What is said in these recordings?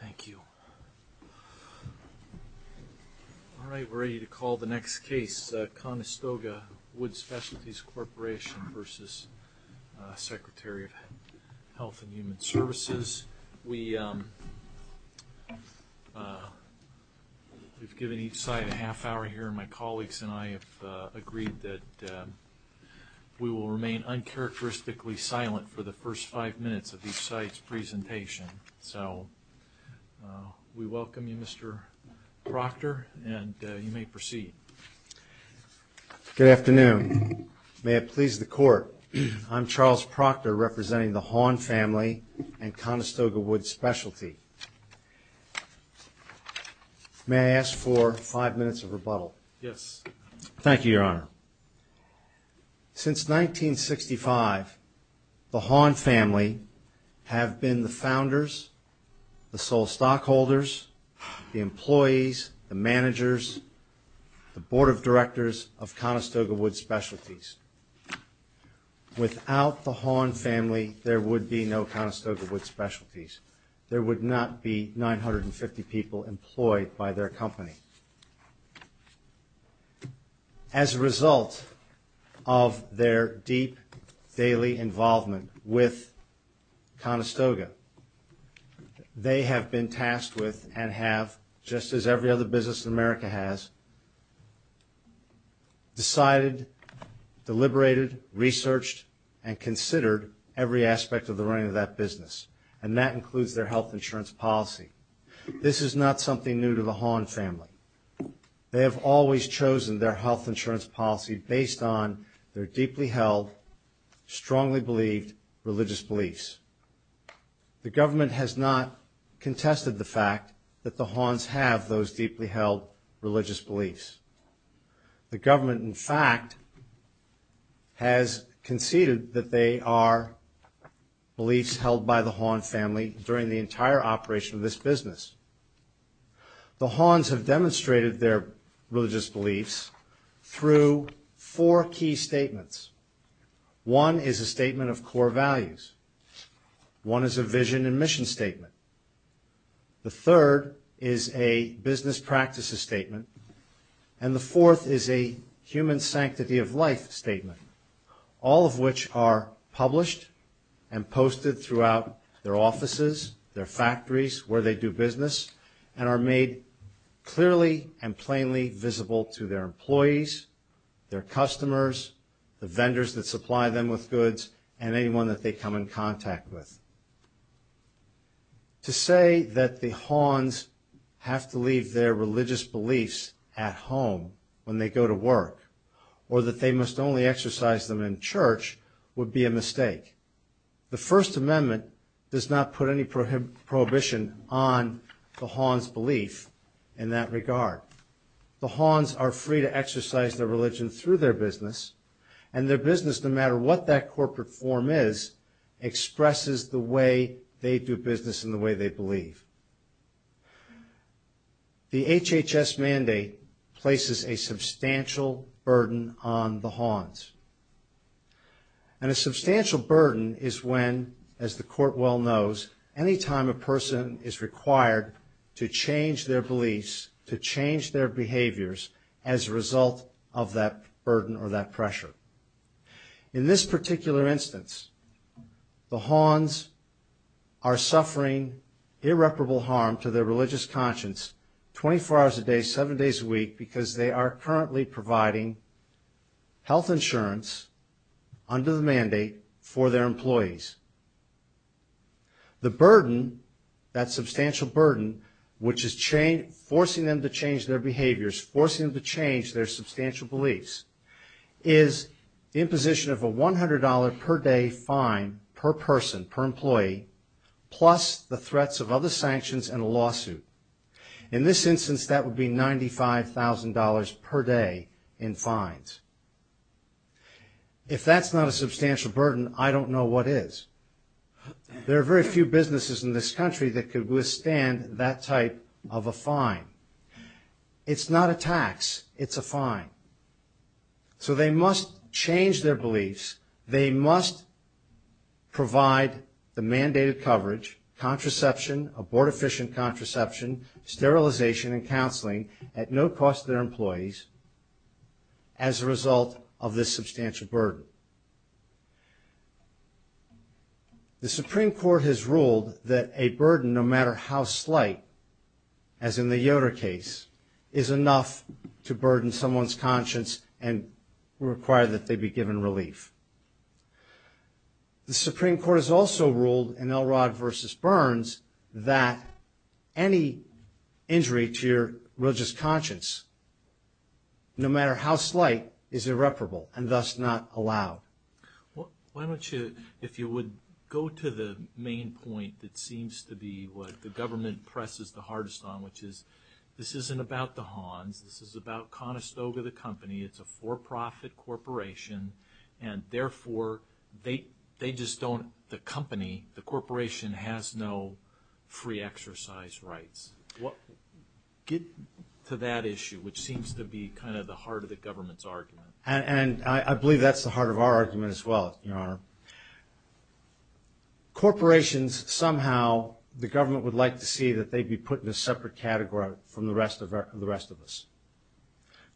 Thank you. All right, we're ready to call the next case, Conestoga Wood Specialties Corporation v. Secretary of Health and Human Services. We've given each side a half hour here. My colleagues and I have agreed that we will remain uncharacteristically silent for the first five minutes of each side's so we welcome you Mr. Proctor and you may proceed. Good afternoon. May it please the court. I'm Charles Proctor representing the Hawn family and Conestoga Wood Specialty. May I ask for five minutes of rebuttal? Yes. Thank you In 1965, the Hawn family have been the founders, the sole stockholders, the employees, the managers, the board of directors of Conestoga Wood Specialties. Without the Hawn family, there would be no Conestoga Wood Specialties. There would not be 950 people employed by their company. As a result of their deep daily involvement with Conestoga, they have been tasked with and have, just as every other business in America has, decided, deliberated, researched, and considered every aspect of the running of that business and that includes their health insurance policy. This is not something new to the Hawn family. They have always chosen their health insurance policy based on their deeply held, strongly believed religious beliefs. The government has not contested the fact that the Hawns have those deeply held religious beliefs. The government, in fact, has conceded that they are beliefs held by the Hawn family during the entire operation of this business. The Hawns have demonstrated their religious beliefs through four key statements. One is a statement of core values. One is a vision and mission statement. The third is a business practices statement, and the fourth is a human sanctity of life statement, all of which are published and posted throughout their offices, their factories, where they do business, and are made clearly and plainly visible to their employees, their customers, the vendors that supply them with goods, and anyone that they come in contact with. To say that the Hawns have to leave their religious beliefs at home when they go to work or that they must only exercise them in church would be a mistake. The First Amendment does not put any prohibition on the Hawns' belief in that regard. The Hawns are free to exercise their religion through their business, and their business, no matter what that corporate form is, expresses the way they do business in the way they believe. The HHS mandate places a substantial burden on the Hawns, and a substantial burden is when, as the court well knows, any time a person is required to change their beliefs, to change their behaviors as a result of that burden or that pressure. In this particular instance, the Hawns are suffering irreparable harm to their religious conscience 24 hours a day, seven days a week, because they are currently providing health insurance under the mandate for their employees. The burden, that substantial burden, which is forcing them to change their behaviors, forcing them to change their substantial beliefs, is imposition of a $100 per day fine per person, per employee, plus the threats of other $100 per day in fines. If that's not a substantial burden, I don't know what is. There are very few businesses in this country that could withstand that type of a fine. It's not a tax, it's a fine. So they must change their beliefs, they must provide the mandated coverage, contraception, abort-efficient contraception, sterilization, and counseling at no cost to their employees as a result of this substantial burden. The Supreme Court has ruled that a burden, no matter how slight, as in the Yoder case, is enough to burden someone's conscience and require that they be given relief. The Supreme Court has also ruled in Elrod v. Burns that any injury to your religious conscience, no matter how slight, is irreparable and thus not allowed. Well, why don't you, if you would go to the main point that seems to be what the government presses the hardest on, which is this isn't about the Han, this is about Conestoga the company, it's a for-profit corporation, and therefore they just don't, the company, the corporation, has no free exercise rights. Get to that issue, which seems to be kind of the heart of the government's argument. And I believe that's the heart of our argument as well. Corporations, somehow, the government would like to see that they'd be put in a separate category from the rest of us.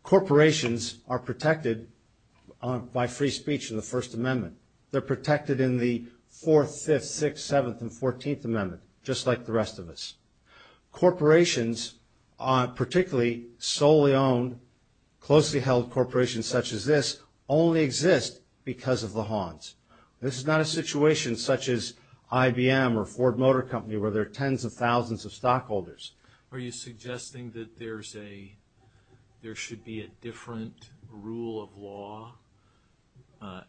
Corporations are protected by free speech in the Fourth, Fifth, Sixth, Seventh, and Fourteenth Amendment, just like the rest of us. Corporations, particularly solely owned, closely held corporations such as this, only exist because of the Hans. This is not a situation such as IBM or Ford Motor Company where there are tens of thousands of stockholders. Are you suggesting that there's a, there should be a different rule of law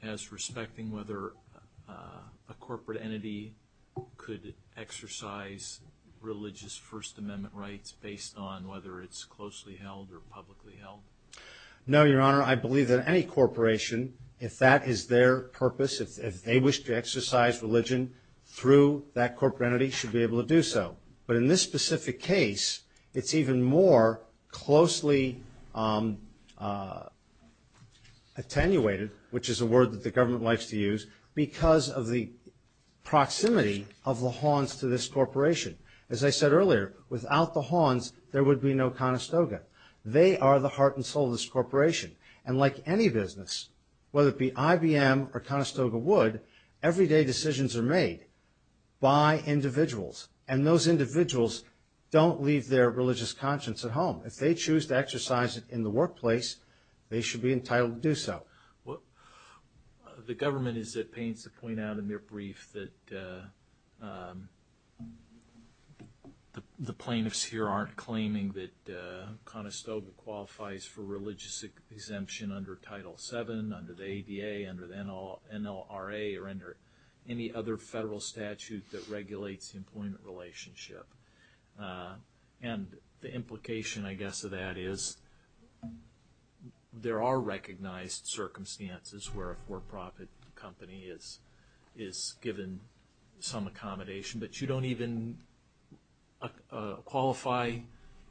as respecting whether a corporate entity could exercise religious First Amendment rights based on whether it's closely held or publicly held? No, Your Honor. I believe that any corporation, if that is their purpose, if they wish to exercise religion through that corporate entity, should be able to do so. But in this specific case, it's even more closely attenuated, which is a word that the government likes to use, because of the proximity of the Hans to this corporation. As I said earlier, without the Hans, there would be no Conestoga. They are the heart and soul of this corporation. And like any business, whether it be IBM or Conestoga would, everyday decisions are made by individuals. And those individuals don't leave their religious conscience at home. If they choose to exercise it in the workplace, they should be entitled to do so. Well, the government is at pains to point out in their brief that the plaintiffs here aren't claiming that Conestoga qualifies for religious exemption under Title VII, under the ADA, under the NLRA, or under any other federal statute that regulates employment relationship. And the implication, I guess, of that is there are recognized circumstances where a for-profit company is given some accommodation, but you don't even qualify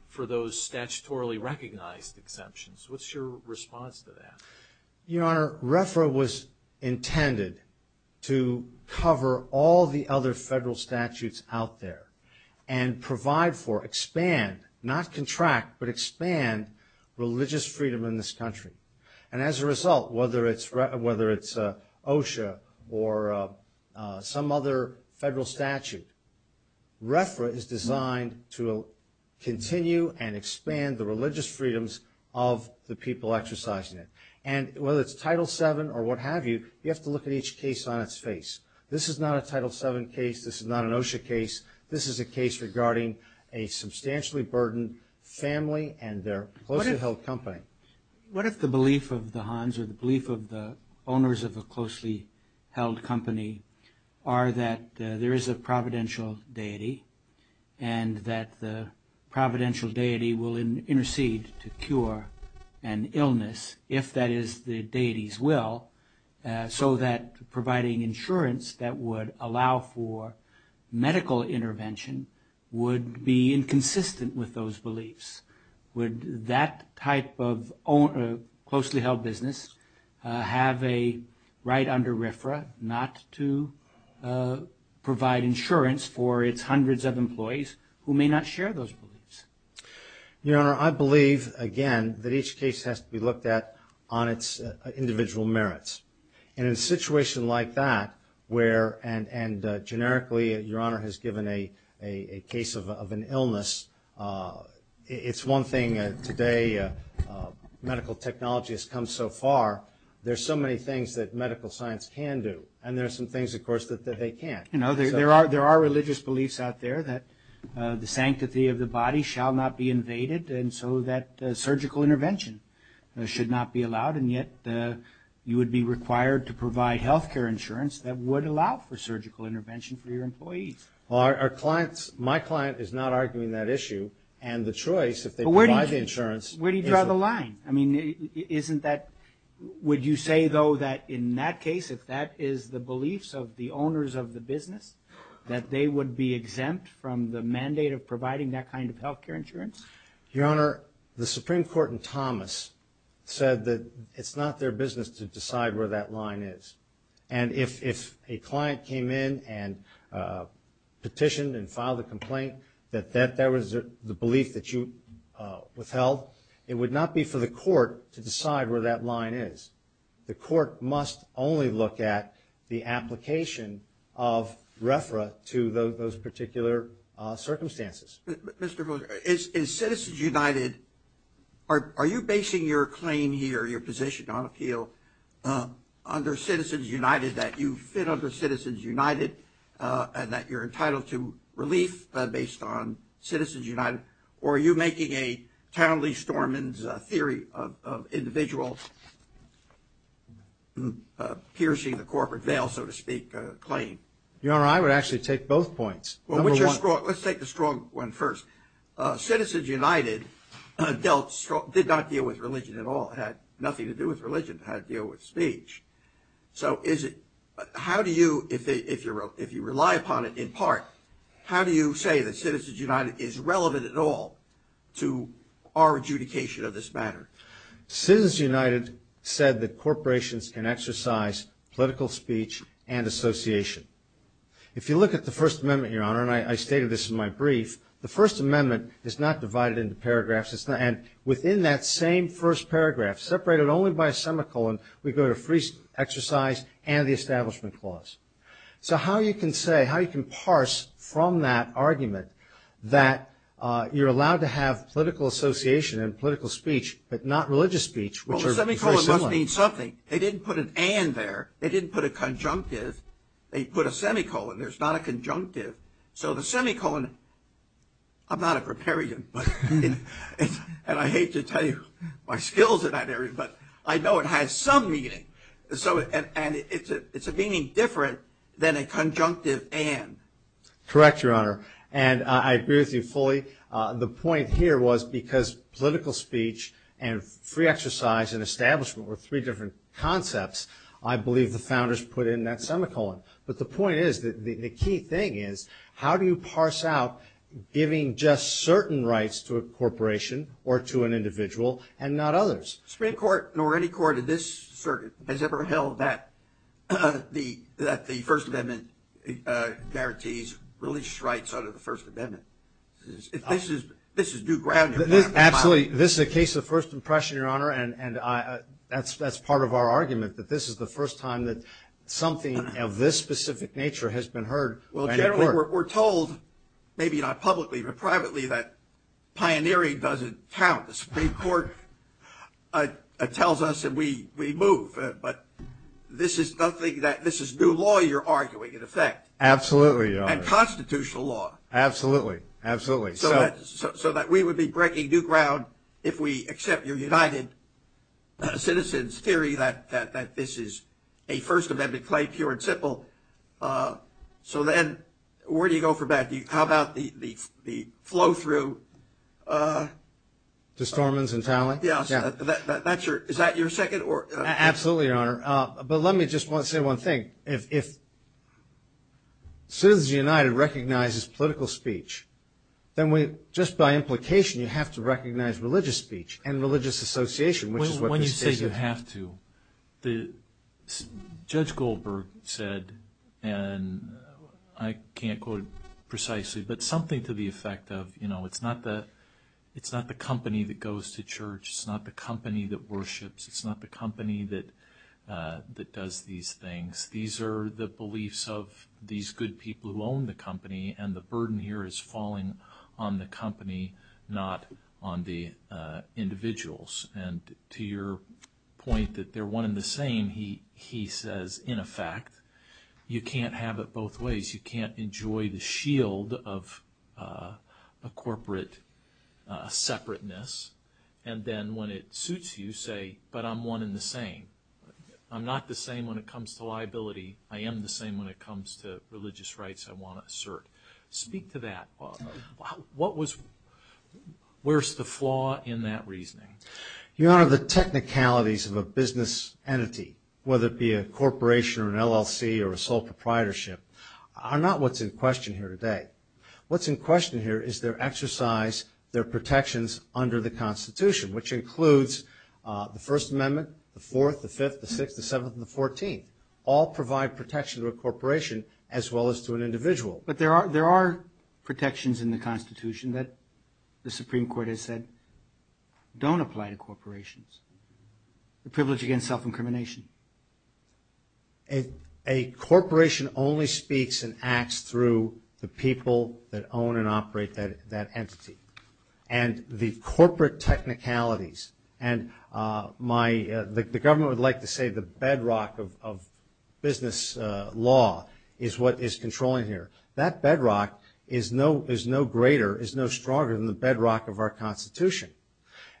for those statutorily recognized exemptions. What's your response to that? Your Honor, RFRA was intended to cover all the other federal statutes out there and provide for, expand, not contract, but expand religious freedom in this country. And as a result, whether it's OSHA or some other federal statute, RFRA is designed to continue and expand the religious freedoms of the people exercising it. And whether it's Title VII or what have you, you have to look at each case on its face. This is not a Title VII case. This is not an OSHA case. This is a case regarding a substantially burdened family and their closely held company. What if the belief of the Hans or the belief of the owners of a closely held company are that there is a providential deity and that the providential deity will intercede to cure an illness, if that is the deity's will, so that providing insurance that would allow for medical intervention would be inconsistent with those beliefs? Would that type of closely held business have a right under RFRA not to provide insurance for its hundreds of employees who may not share those beliefs? Your Honor, I believe, again, that each case has to be looked at on its individual merits. And in a situation like that, where, and generically, Your Honor has given a case of an illness, it's one thing today medical technology has come so far. There's so many things that medical science can do and there's some things, of course, that they can't. You know, there are religious beliefs out there that the sanctity of the body shall not be invaded and so that surgical intervention should not be allowed. And yet, you would be required to provide health care insurance that would allow for surgical intervention for your employees. Well, our clients, my client is not arguing that issue and the choice if they provide insurance. But where do you draw the line? I mean, isn't that, would you say, though, that in that case, if that is the beliefs of the owners of the business, that they would be exempt from the mandate of providing that kind of health care insurance? Your Honor, the Supreme Court and Thomas said that it's not their business to decide where that line is. And if a client came in and petitioned and filed a complaint, that that was the belief that you withheld, it would not be for the court to decide where that line is. The court must only look at the application of RFRA to those particular circumstances. Mr. Miller, in Citizens United, are you basing your claim here, your position on appeal, under Citizens United, that you fit under Citizens United and that you're entitled to relief based on Citizens United, or are you making a Townley-Storeman's theory of individuals piercing the corporate veil, so to speak, claim? Your Honor, I would actually take both points. Well, let's take the strong one first. Citizens United did not deal with religion at all. It had nothing to do with religion. It had to deal with speech. So is it, how do you, if you rely upon it in part, how do you say that Citizens United is relevant at all to our adjudication of this matter? Citizens United said that corporations can exercise political speech and association. If you look at the First Amendment, Your Honor, and I stated this in my brief, the First Amendment is not divided into paragraphs. It's not, and within that same first paragraph, separated only by a semicolon, we go to free exercise and the Establishment Clause. So how you can say, how you can argument that you're allowed to have political association and political speech, but not religious speech, which are very similar. Well, the semicolon must mean something. They didn't put an and there. They didn't put a conjunctive. They put a semicolon. There's not a conjunctive. So the semicolon, I'm not a preparian, and I hate to tell you my skills in that area, but I know it has some meaning, and it's a conjunctive and. Correct, Your Honor, and I agree with you fully. The point here was because political speech and free exercise and establishment were three different concepts, I believe the founders put in that semicolon. But the point is, the key thing is, how do you parse out giving just certain rights to a corporation or to an individual and not others? Supreme Court nor any court of this circuit has ever held that the First Amendment guarantees religious rights under the First Amendment. This is new ground. Absolutely. This is a case of first impression, Your Honor, and that's part of our argument, that this is the first time that something of this specific nature has been heard. Well, generally we're told, maybe not publicly but privately, that pioneering doesn't count. The Supreme Court tells us that we move, but this is nothing that, this is new law you're arguing, in effect. Absolutely, Your Honor. And constitutional law. Absolutely, absolutely. So that we would be breaking new ground if we accept your United Citizens theory that this is a First Amendment claim, pure and simple. So then, where do you go from that? How about the flow-through? To Stormont's and Talley? Yeah, that's your, is that your second? Absolutely, Your Honor. But let me just say one thing. If Citizens United recognizes political speech, then we, just by implication, you have to recognize religious speech and religious association, which is what you say you have to. When you say you have to, Judge and I can't quote precisely, but something to the effect of, you know, it's not the, it's not the company that goes to church, it's not the company that worships, it's not the company that that does these things. These are the beliefs of these good people who own the company, and the burden here is falling on the company, not on the individuals. And to your point that they're one in the same, he says, in effect, you can't have it both ways. You can't enjoy the shield of a corporate separateness, and then when it suits you, say, but I'm one in the same. I'm not the same when it comes to liability. I am the same when it comes to religious rights, I want to assert. Speak to that. What was, where's the flaw in that reasoning? You know, the technicalities of a business entity, whether it be a corporation or an LLC or a sole proprietorship, are not what's in question here today. What's in question here is their exercise, their protections under the Constitution, which includes the First Amendment, the Fourth, the Fifth, the Sixth, the Seventh, and the Fourteenth, all provide protection to a corporation as well as to an individual. But there are, there are protections in the Constitution that the Supreme Court has said don't apply to corporations. The privilege against self-incrimination. A corporation only speaks and acts through the people that own and operate that entity. And the corporate technicalities, and my, the government would like to say the bedrock of business law is what is controlling here. That bedrock is no, is no greater, is no stronger than the bedrock of our Constitution.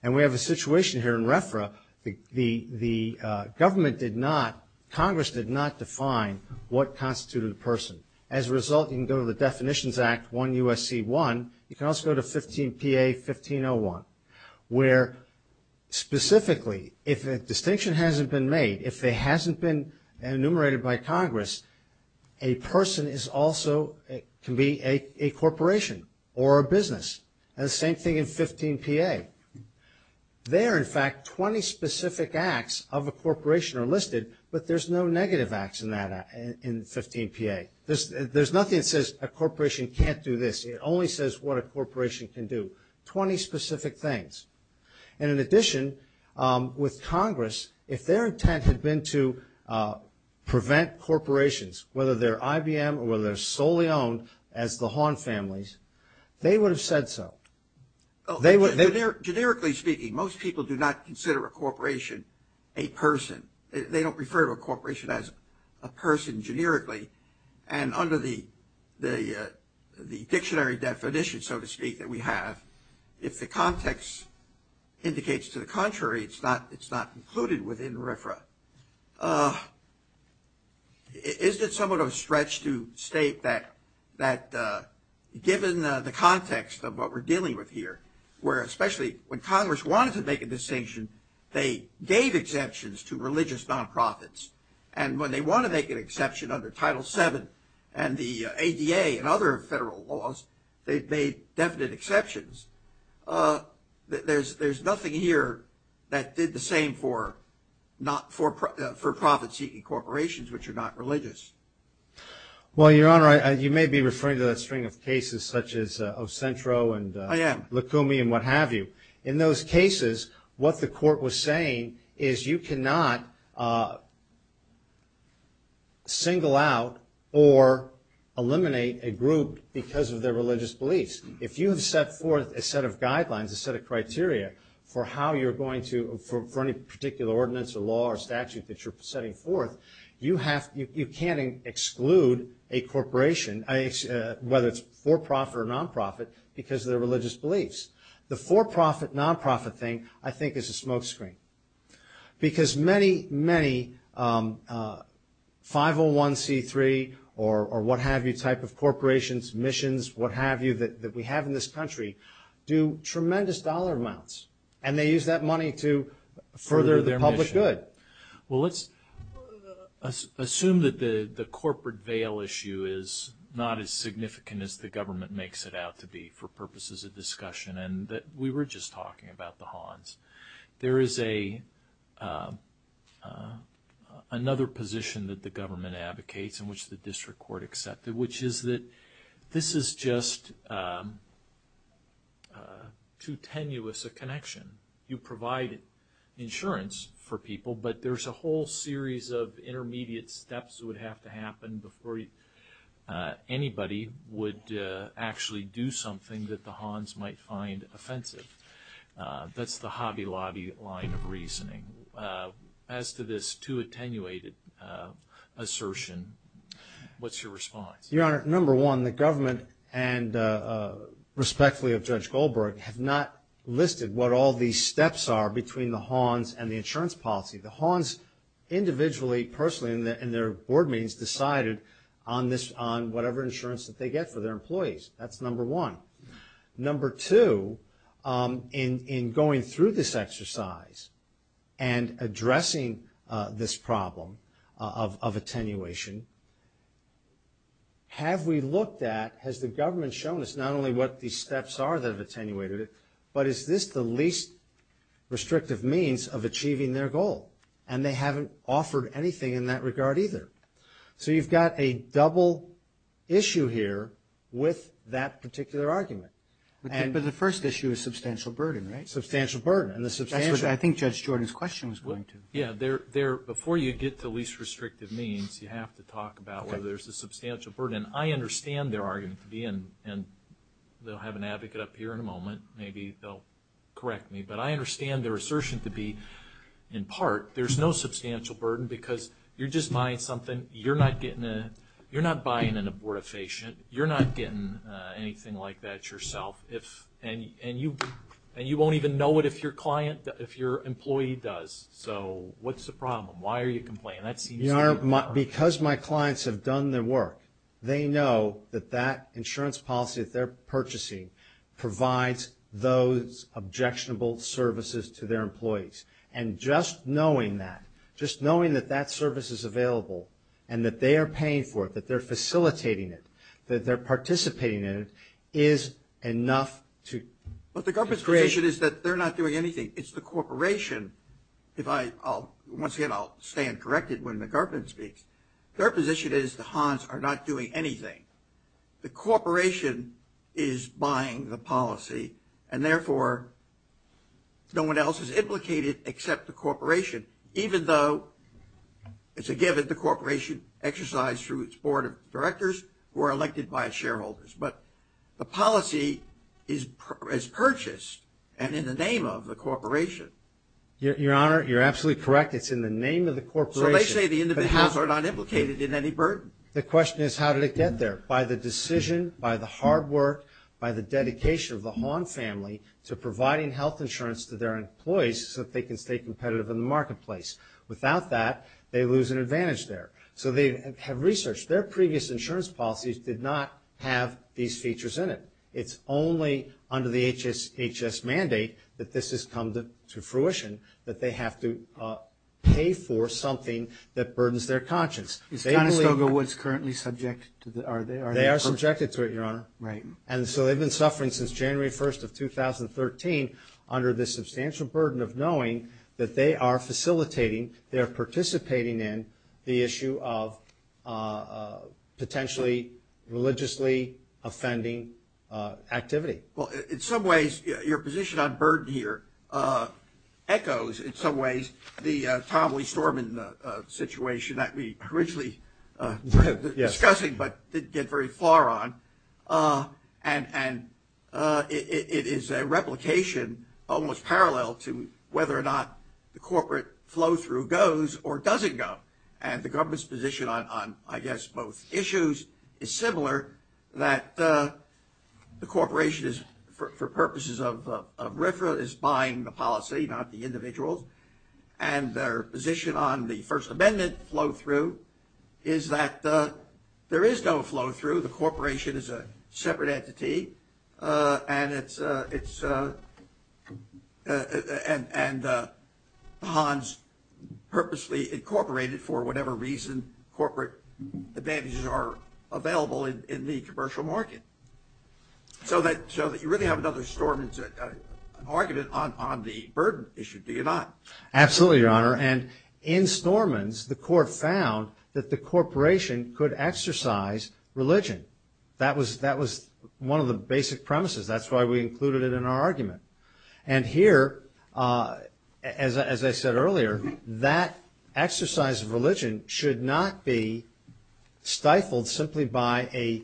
And we have a situation here in RFRA, the, the, the government did not, Congress did not define what constituted the person. As a result, you can go to the Definitions Act 1 U.S.C. 1, you can also go to 15 P.A. 1501, where specifically, if a distinction hasn't been made, if there hasn't been an act enumerated by Congress, a person is also, can be a corporation or a business. And the same thing in 15 P.A. There, in fact, 20 specific acts of a corporation are listed, but there's no negative acts in that act, in 15 P.A. There's, there's nothing that says a corporation can't do this. It only says what a corporation can do. Twenty specific things. And in addition, with Congress, if their intent had been to prevent corporations, whether they're IBM or whether they're solely owned as the Hawn families, they would have said so. They would, they're, generically speaking, most people do not consider a corporation a person. They don't refer to a corporation as a person generically. And under the, the, the dictionary definition, so to speak, that we have, if the context indicates to the Is it somewhat of a stretch to state that, that given the context of what we're dealing with here, where especially when Congress wanted to make a distinction, they gave exceptions to religious nonprofits. And when they want to make an exception under Title VII and the ADA and other federal laws, they've made definite exceptions. There's, there's nothing here that did the same for not for, for profit seeking corporations, which are not religious. Well, Your Honor, I, you may be referring to that string of cases such as, of Centro and, I am. Lukumi and what have you. In those cases, what the court was saying is you cannot single out or eliminate a group because of their religious beliefs. If you set forth a set of guidelines, a set of criteria for how you're going to, for any particular ordinance or law or statute that you're setting forth, you have, you can't exclude a corporation, whether it's for profit or nonprofit, because of their religious beliefs. The for profit, nonprofit thing, I think is a smokescreen. Because many, many 501c3 or what have you type of corporations, missions, what have you, that we have in this country, do tremendous dollar amounts. And they use that money to further their public good. Well, let's assume that the corporate veil issue is not as significant as the government makes it out to be for purposes of discussion. And that we were just talking about the Hans. There is a, another position that the government advocates in which the district court accepted, which is that this is just too tenuous a connection. You provide insurance for people, but there's a whole series of intermediate steps that would have to happen before anybody would actually do something that the Hans might find offensive. That's the Hobby Lobby line of reasoning. As to this too attenuated assertion, what's your response? Your Honor, number one, the government and respectfully of Judge Goldberg have not listed what all these steps are between the Hans and the insurance policy. The Hans individually, personally, in their board meetings decided on this, on whatever insurance that they get for their employees. That's number one. Number two, in going through this exercise and addressing this problem of attenuation, have we looked at, has the government shown us not only what the insurance policy is, but is this the least restrictive means of achieving their goal? And they haven't offered anything in that regard either. So you've got a double issue here with that particular argument. But the first issue is substantial burden, right? Substantial burden. And the substantial... Actually, I think Judge Jordan's question was going to... Yeah. Before you get to least restrictive means, you have to talk about whether there's a substantial burden. And I understand their argument at the end, and they'll have an advocate up here in a moment. Maybe they'll correct me. But I understand their assertion to be, in part, there's no substantial burden because you're just buying something. You're not buying an abortifacient. You're not getting anything like that yourself. And you won't even know it if your client, if your employee does. So what's the problem? Why are you complaining? That seems... Your Honor, because my clients have done their work, they know that that purchasing provides those objectionable services to their employees. And just knowing that, just knowing that that service is available, and that they are paying for it, that they're facilitating it, that they're participating in it, is enough to... What the Garpin's creation is that they're not doing anything. It's the corporation... Once again, I'll stand corrected when the Garpin speaks. Their position is the Hans are not doing anything. The corporation is buying the policy, and therefore, no one else is implicated except the corporation, even though it's a given the corporation exercised through its board of directors were elected by shareholders. But the policy is purchased, and in the name of the corporation. Your Honor, you're absolutely correct. It's in the name of the corporation. So they say the individuals are not implicated in any burden. The question is, how did it get there? By the decision, by the hard work, by the dedication of the Hahn family to providing health insurance to their employees so that they can stay competitive in the marketplace. Without that, they lose an advantage there. So they have researched. Their previous insurance policies did not have these features in it. It's only under the HHS mandate that this has come to fruition, that they have to pay for something that burdens their conscience. Is Conestoga Woods currently subjected to the... They are subjected to it, Your Honor. Right. And so they've been suffering since January 1st of 2013 under the substantial burden of knowing that they are facilitating, they're participating in the issue of potentially religiously offending activity. Well, in some ways, your position on burden here echoes, in some ways, the Tom Lee Storman situation that we originally were discussing but didn't get very far on. And it is a replication almost parallel to whether or not the corporate flow through goes or doesn't go. And the government's position on, I think, is similar, that the corporation is, for purposes of RFRA, is buying the policy, not the individuals. And their position on the First Amendment flow through is that there is no flow through. The corporation is a separate entity. And it's... And Hans purposely incorporated, for whatever reason, corporate advantages are available in the commercial market. So that you really have another Stormans argument on the burden issue, do you not? Absolutely, Your Honor. And in Stormans, the court found that the corporation could exercise religion. That was one of the basic premises. That's why we included it in our argument. And here, as I said earlier, that exercise of religion could not be stifled simply by a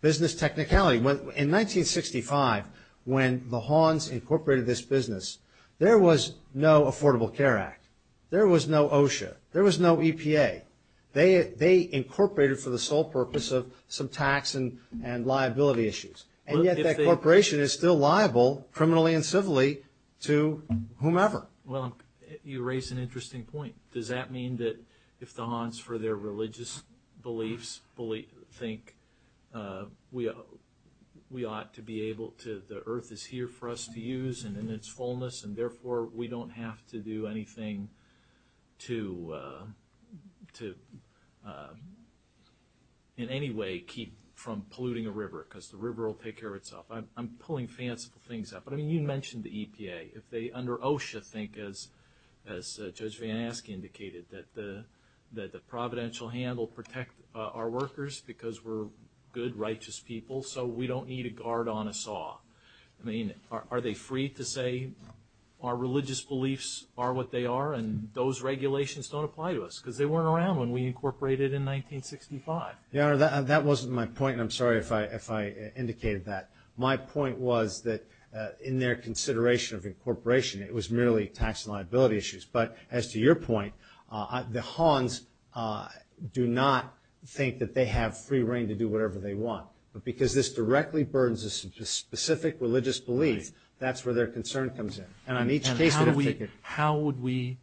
business technicality. In 1965, when the Hans incorporated this business, there was no Affordable Care Act. There was no OSHA. There was no EPA. They incorporated for the sole purpose of some tax and liability issues. And yet, that corporation is still liable, criminally and civilly, to whomever. Well, you raise an interesting point. Does that mean that if the Hans, for their religious beliefs, think we ought to be able to... The earth is here for us to use, and in its fullness, and therefore we don't have to do anything to, in any way, keep from polluting a river? Because the river will take care of itself. I'm thinking, as Judge Van Aske indicated, that the providential hand will protect our workers because we're good, righteous people, so we don't need a guard on a saw. I mean, are they free to say our religious beliefs are what they are, and those regulations don't apply to us? Because they weren't around when we incorporated in 1965. Your Honor, that wasn't my point. I'm sorry if I indicated that. My point was that, in their consideration of incorporation, it was merely tax liability issues. But, as to your point, the Hans do not think that they have free reign to do whatever they want. But because this directly burdens a specific religious belief, that's where their concern comes in. And I need to take that... How would we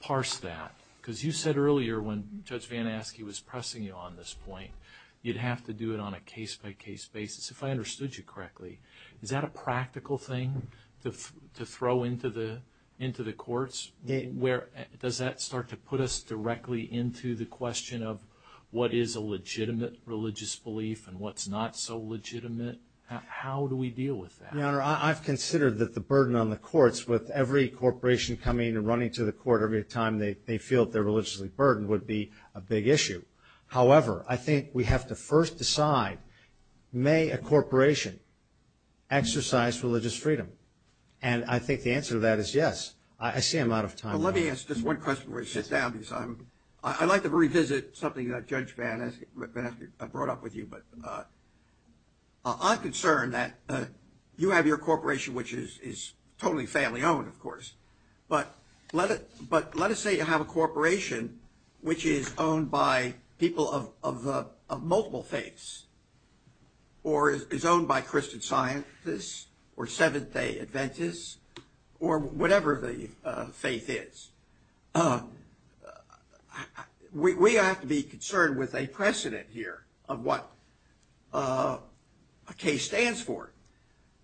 parse that? Because you said earlier, when Judge Van Aske was pressing you on this point, you'd have to do it on a case-by-case basis. If I understood you correctly, is that a practical thing to throw into the courts? Does that start to put us directly into the question of, what is a legitimate religious belief and what's not so legitimate? How do we deal with that? Your Honor, I consider that the burden on the courts, with every corporation coming and running to the court every time they feel that they're religiously burdened, would be a big issue. However, I think we have to first decide, may a corporation exercise religious freedom? And I think the answer to that is yes. I see I'm out of time. Let me ask just one question before we sit down. I'd like to revisit something that Judge Van Aske brought up with you. I'm concerned that you have your corporation, which is totally family-owned, of course. But let us say you have a corporation which is owned by people of multiple faiths, or is owned by Christian scientists, or whatever the faith is. We have to be concerned with a precedent here of what a case stands for.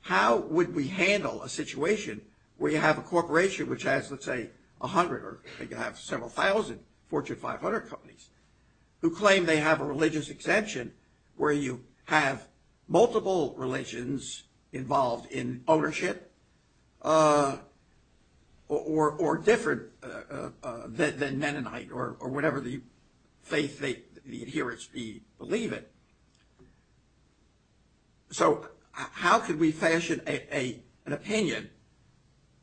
How would we handle a situation where you have a corporation which has, let's say, a hundred or you have several thousand Fortune 500 companies who claim they have a religious exemption, where you have multiple religions involved in ownership, or different than Mennonite, or whatever the adherents believe it. So how could we fashion an opinion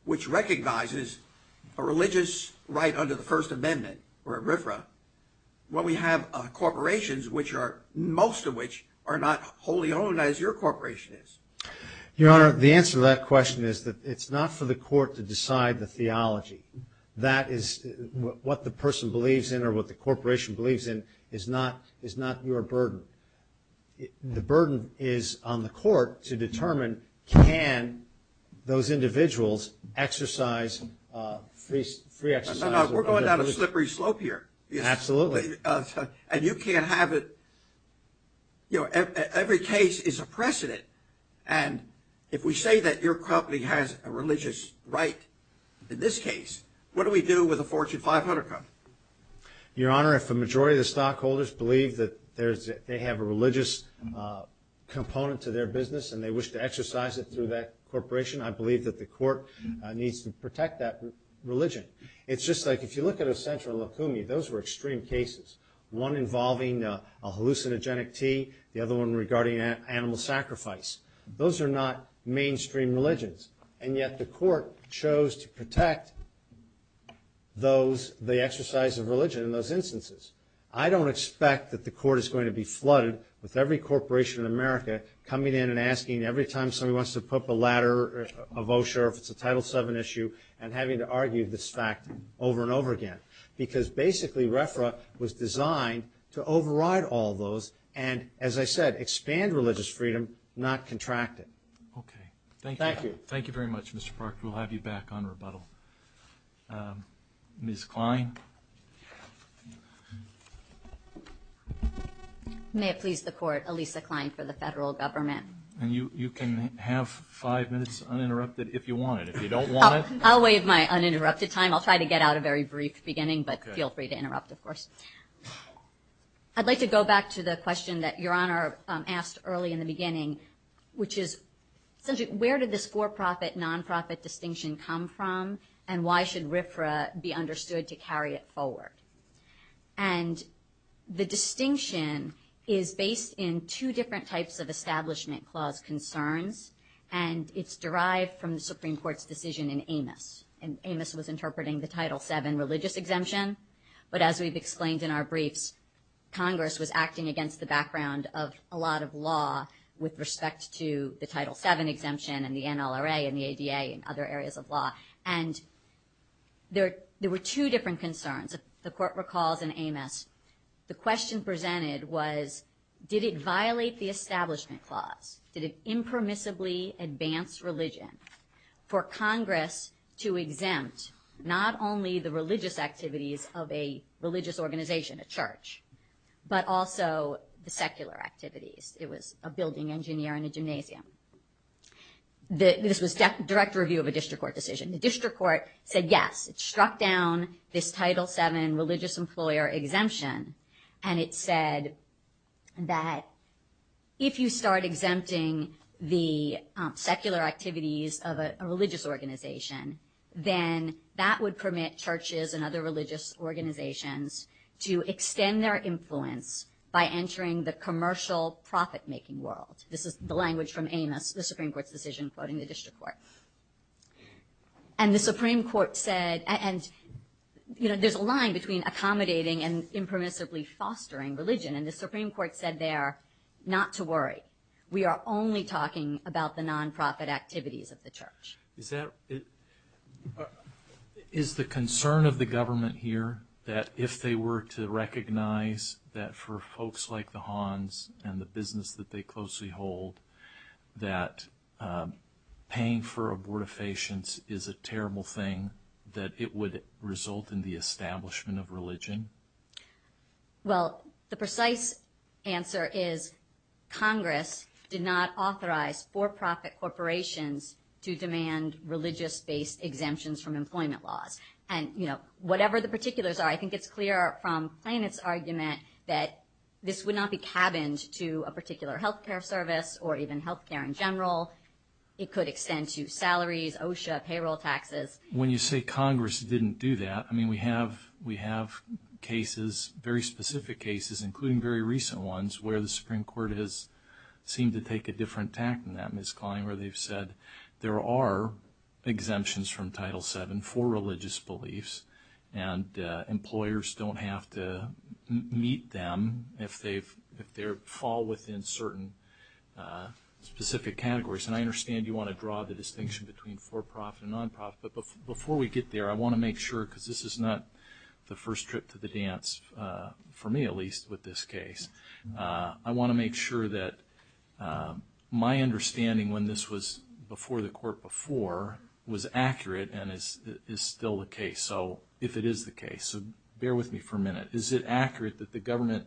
which recognizes a religious right under the First Amendment, or ERIFRA, where we have corporations which are, most of which, are not wholly owned as your corporation is? Your Honor, the answer to that question is that it's not for the court to decide the theology. That is what the person believes in, or what the corporation believes in, is not your burden. The burden is on the court to determine, can those individuals exercise free exercise? We're going down a and you can't have it, you know, every case is a precedent, and if we say that your company has a religious right in this case, what do we do with a Fortune 500 company? Your Honor, if the majority of the stockholders believe that there's, they have a religious component to their business, and they wish to exercise it through that corporation, I believe that the court needs to protect that religion. It's just like, if you look at a central lacunae, those were extreme cases, one involving a hallucinogenic tea, the other one regarding an animal sacrifice. Those are not mainstream religions, and yet the court chose to protect those, the exercise of religion in those instances. I don't expect that the court is going to be flooded with every corporation in America coming in and asking every time somebody wants to put up a ladder, or a vulture, if it's a Title VII issue, and having to argue this fact over and over again. Because basically, RFRA was designed to override all those, and as I said, expand religious freedom, not contract it. Okay. Thank you. Thank you very much, Mr. Park. We'll have you back on rebuttal. Ms. Klein? May it please the Court, Alisa Klein for the federal government. And you can have five minutes uninterrupted if you want. I'll waive my uninterrupted time. I'll try to get out a very brief beginning, but feel free to interrupt, of course. I'd like to go back to the question that Your Honor asked early in the beginning, which is, where did this for-profit, non-profit distinction come from, and why should RFRA be understood to carry it forward? And the distinction is based in two different types of Establishment Clause concerns, and it's derived from the Supreme Court's decision in Amos. And Amos was interpreting the Title VII religious exemption, but as we've explained in our briefs, Congress was acting against the background of a lot of law with respect to the Title VII exemption, and the NLRA, and the ADA, and other areas of law. And there were two different concerns. The Court recalls in Amos, the question presented was, did it violate the Establishment Clause? Did it impermissibly advance religion for Congress to exempt not only the religious activities of a religious organization, a church, but also the secular activities? It was a building engineer and a gymnasium. This was just a direct review of a district court decision. The district court said, yes, it struck down this Title VII religious employer exemption, and it said that if you start exempting the secular activities of a religious organization, then that would permit churches and other religious organizations to extend their influence by entering the commercial profit-making world. This is the language from Amos, the Supreme Court's decision quoting the district courts. And the Supreme Court said, and you know, there's a line between accommodating and impermissibly fostering religion, and the Supreme Court said there not to worry. We are only talking about the nonprofit activities of the church. Is the concern of the government here that if they were to recognize that for folks like the Hans and the business that they closely hold, that paying for abortifacients is a result in the establishment of religion? Well, the precise answer is Congress did not authorize for-profit corporations to demand religious-based exemptions from employment laws. And you know, whatever the particulars are, I think it's clear from Bennett's argument that this would not be cabined to a particular health care service or even health care in general. It could extend to salaries, OSHA, payroll taxes. When you say Congress didn't do that, I mean, we have cases, very specific cases, including very recent ones where the Supreme Court has seemed to take a different tack than that, Ms. Klein, where they've said there are exemptions from Title VII for religious beliefs, and employers don't have to meet them if they fall within certain specific categories. And I understand you want to draw the distinction between for-profit and non-profit, but before we get there, I want to make sure, because this is not the first trip to the dance, for me at least, with this case, I want to make sure that my understanding when this was before the court before was accurate and is still the case. So if it is the case, bear with me for a minute. Is it accurate that the government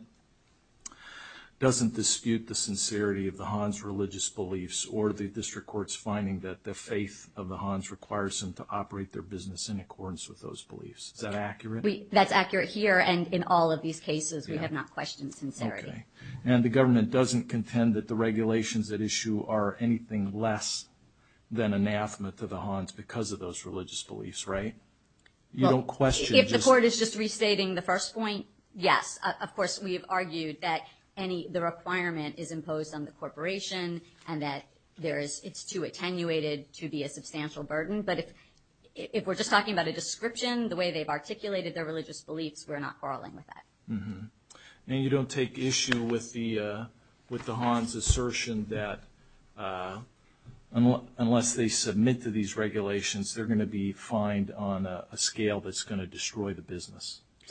doesn't dispute the sincerity of the Hans religious beliefs or the district court's finding that the faith of the Hans requires them to operate their business in accordance with those beliefs? Is that accurate? That's accurate here and in all of these cases we have not questioned sincerity. And the government doesn't contend that the regulations at issue are anything less than anathema to the Hans because of those religious beliefs, right? If the court is just restating the first point, yes. Of course, we've argued that any the requirement is imposed on the corporation and that there is it's too attenuated to be a substantial burden. But if we're just talking about a description, the way they've articulated their religious beliefs, we're not quarreling with that. And you don't take issue with the Hans assertion that unless they submit to these regulations, they're going to be fined on a scale that's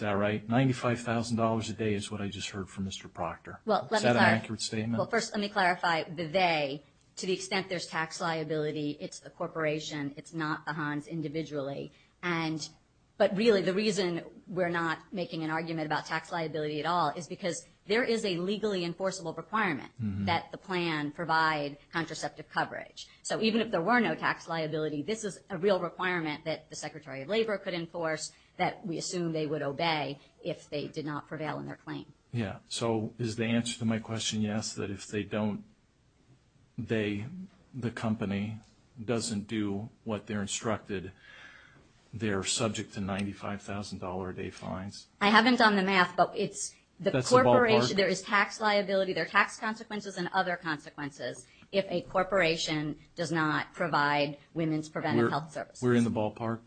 95,000 dollars a day is what I just heard from Mr. Proctor. Is that an accurate statement? Well, first let me clarify the they. To the extent there's tax liability, it's the corporation, it's not the Hans individually. And but really the reason we're not making an argument about tax liability at all is because there is a legally enforceable requirement that the plan provide contraceptive coverage. So even if there were no tax liability, this is a real requirement that the Secretary of Labor could enforce that we assume they would obey if they did not prevail in their claim. Yeah, so is the answer to my question yes, that if they don't, they, the company doesn't do what they're instructed, they're subject to $95,000 a day fines? I haven't done the math, but it's the corporation, there is tax liability, there are tax consequences and other consequences if a corporation does not provide women's preventive health We're in the ballpark?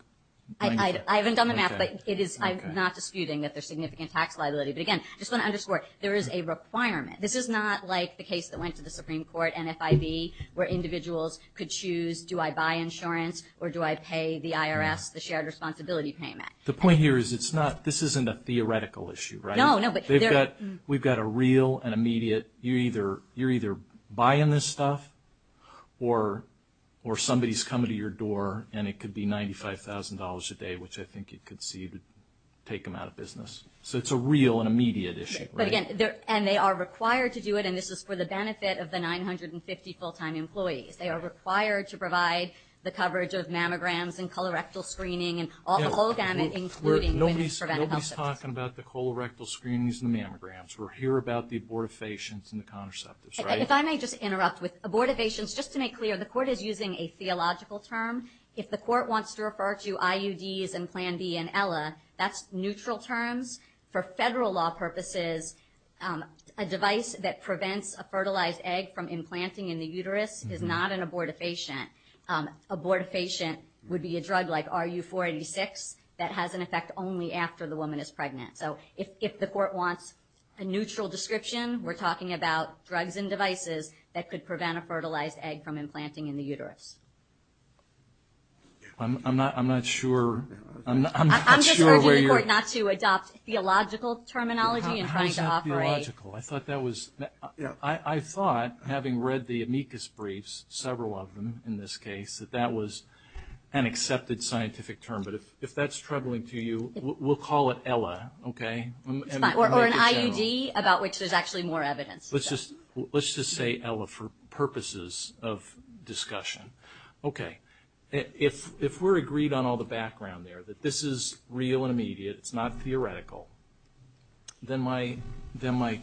I haven't done the math, but I'm not disputing that there's significant tax liability. But again, I just want to underscore, there is a requirement. This is not like the case that went to the Supreme Court, NFIB, where individuals could choose, do I buy insurance or do I pay the IRS the shared responsibility payment? The point here is it's not, this isn't a theoretical issue, right? No, no. We've got a real and immediate, you're either, you're either buying this stuff, or somebody's coming to your door and it could be $95,000 a day, which I think you could see to take them out of business. So it's a real and immediate issue. But again, and they are required to do it, and this is for the benefit of the 950 full-time employees. They are required to provide the coverage of mammograms and colorectal screening and all the whole damage, including women's preventive health. We're not talking about the colorectal screenings and mammograms, we're here about the abortifacients and the contraceptives, right? If I may just interrupt with abortifacients, just to make clear, the court is using a theological term. If the court wants to refer to IUDs and Plan B and Ella, that's neutral terms. For federal law purposes, a device that prevents a fertilized egg from implanting in the uterus is not an abortifacient. Abortifacient would be a drug like RU-486 that has an effect only after the woman is pregnant. So if the neutral description, we're talking about drugs and devices that could prevent a fertilized egg from implanting in the uterus. I'm not sure. I'm not sure where you are. I'm just refusing not to adopt theological terminology in trying to operate. How is that theological? I thought that was, you know, I thought, having read the amicus briefs, several of them in this case, that that was an accepted scientific term, but if that's troubling to you, we'll call it Ella, okay? Or an IUD about which there's actually more evidence. Let's just say Ella for purposes of discussion. Okay, if we're agreed on all the background there, that this is real and immediate, it's not theoretical, then my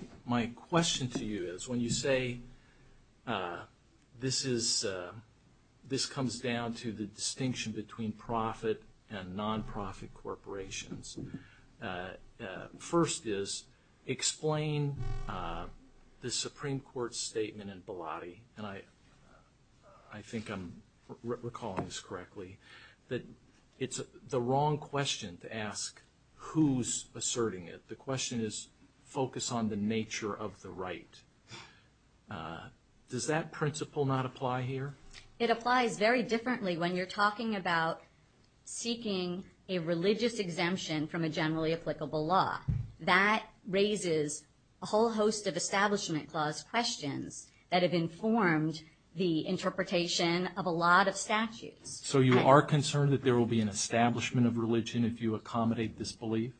question to you is, when you say this comes down to the distinction between profit and non-profit corporations, first is, explain the Supreme Court statement in Biladi, and I think I'm recalling this correctly, that it's the wrong question to ask who's asserting it. The question is, focus on the nature of the right. Does that principle not apply here? It applies very much to what you're saying about seeking a religious exemption from a generally applicable law. That raises a whole host of Establishment Clause questions that have informed the interpretation of a lot of statutes. So you are concerned that there will be an establishment of religion if you accommodate disbelief?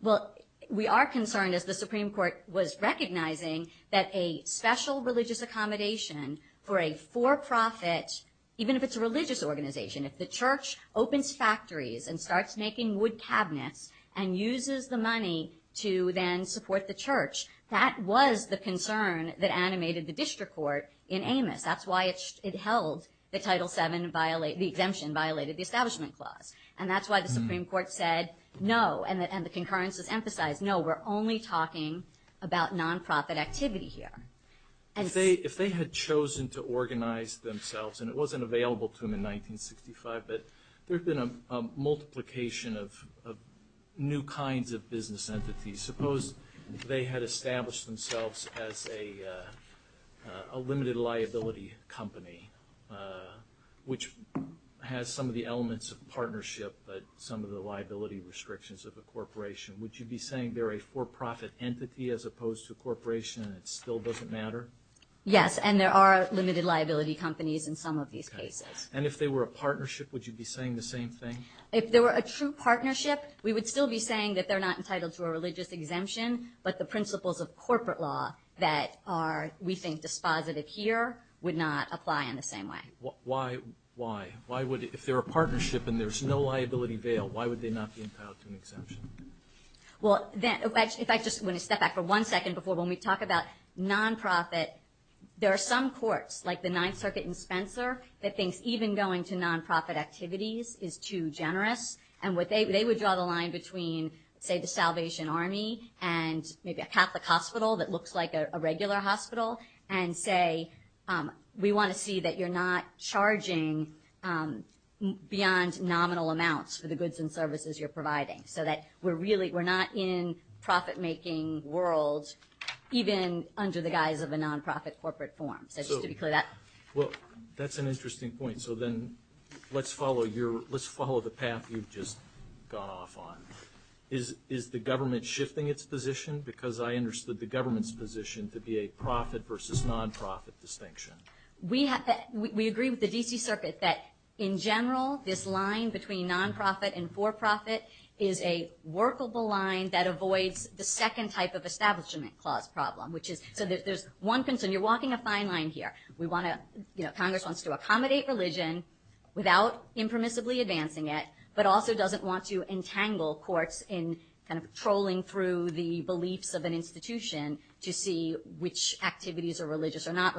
Well, we are concerned, as the Supreme Court was recognizing, that a special religious accommodation for a for-profit, even if it's a religious organization, if the church opens factories and starts making wood cabinets and uses the money to then support the church, that was the concern that animated the district court in Amos. That's why it held the Title VII violation, the exemption violated the Establishment Clause, and that's why the Supreme Court said no, and the concurrence was emphasized, no, we're only talking about non-profit activity here. If they had chosen to organize themselves, and it wasn't available to them in 1965, but there's been a multiplication of new kinds of business entities. Suppose they had established themselves as a limited liability company, which has some of the elements of partnership, but some of the liability restrictions of a corporation. Would you be saying they're a for-profit entity as opposed to a corporation and it still doesn't matter? Yes, and there are limited liability companies in some of these cases. And if they were a partnership, would you be saying the same thing? If there were a true partnership, we would still be saying that they're not entitled to a religious exemption, but the principles of corporate law that are, we think, dispositive here, would not apply in the same way. Why? Why? Why would, if they're a partnership and there's no liability bail, why would they not be entitled to an exemption? Well, if I just want to step back for one second before when we talk about non-profit, there are some courts, like the Ninth Circuit and Spencer, that think even going to non-profit activities is too generous, and what they would draw the line between, say, the Salvation Army and maybe a Catholic Hospital that looks like a regular hospital, and say, we want to see that you're not charging beyond nominal amounts for the goods and services you're providing, so that we're really, we're not in profit-making world even under the guise of a non-profit corporate form. That's an interesting point, so then let's follow your, let's follow the path you've just gone off on. Is the government shifting its position? Because I understood the government's position to be a profit versus non-profit distinction. We agree with the D.C. Circuit that, in general, this line between non-profit and for-profit is a workable line that avoids the second type of Establishment Clause problem, which is, so there's one thing, so you're walking a fine line here. We want to, you know, Congress wants to accommodate religion without impermissibly advancing it, but also doesn't want to entangle courts in kind of trolling through the beliefs of an institution to see which activities are religious or not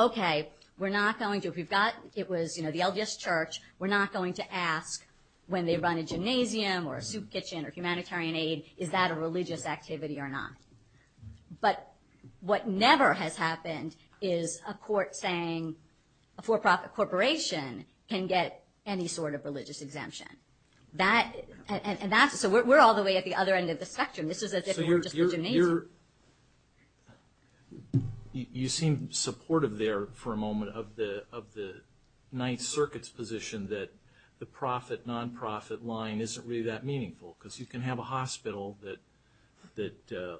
Okay, we're not going to, if we've got, it was, you know, the LDS Church, we're not going to ask when they run a gymnasium or a soup kitchen or humanitarian aid, is that a religious activity or not? But what never has happened is a court saying a for-profit corporation can get any sort of religious exemption. That, and that's, so we're all the way at the other end of the spectrum. This is a different You seem supportive there for a moment of the Ninth Circuit's position that the profit, non-profit line isn't really that meaningful, because you can have a hospital that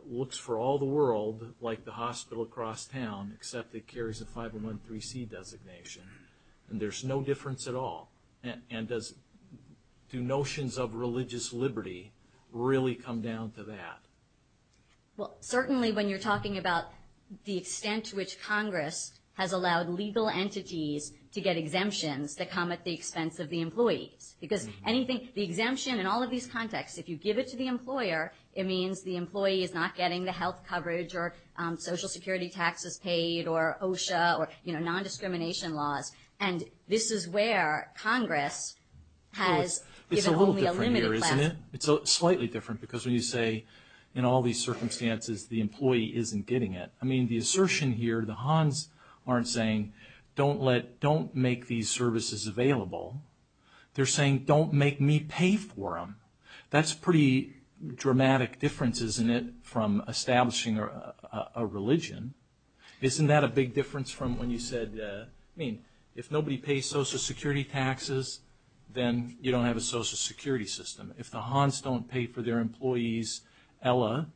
looks for all the world, like the hospital across town, except it carries a 501c3 designation, and there's no difference at all, and do notions of religious liberty really come down to that? Well, certainly when you're talking about the extent to which Congress has allowed legal entities to get exemptions that come at the expense of the employee, because anything, the exemption in all of these contexts, if you give it to the employer, it means the employee is not getting the health coverage or Social Security taxes paid or OSHA or, you know, non-discrimination laws, and this is where Congress has given only a limited class. It's a little different here, isn't it? It's slightly different, because when you say in all these circumstances the employee isn't getting it. I mean, the assertion here, the Hans aren't saying don't let, don't make these services available. They're saying don't make me pay for them. That's pretty dramatic difference, isn't it, from establishing a religion. Isn't that a big difference from when you said, I mean, if nobody pays Social Security taxes, then you don't have a Social Security system. If the Hans don't pay for their employees, Ella,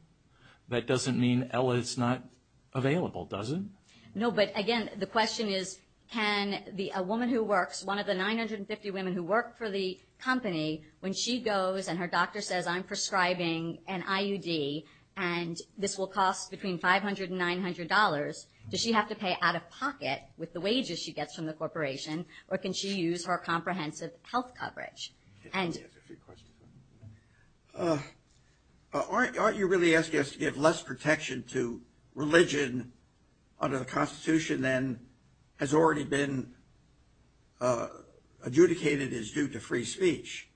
that doesn't mean Ella is not available, does it? No, but again, the question is, can a woman who works, one of the 950 women who work for the company, when she goes and her doctor says I'm prescribing an IUD and this will cost between $500 and $900, does she have to pay out of pocket with the wages she gets from the corporation, or can she use her comprehensive health coverage? Aren't you really asking us to get less protection to religion under the Constitution than has already been adjudicated as due to free speech?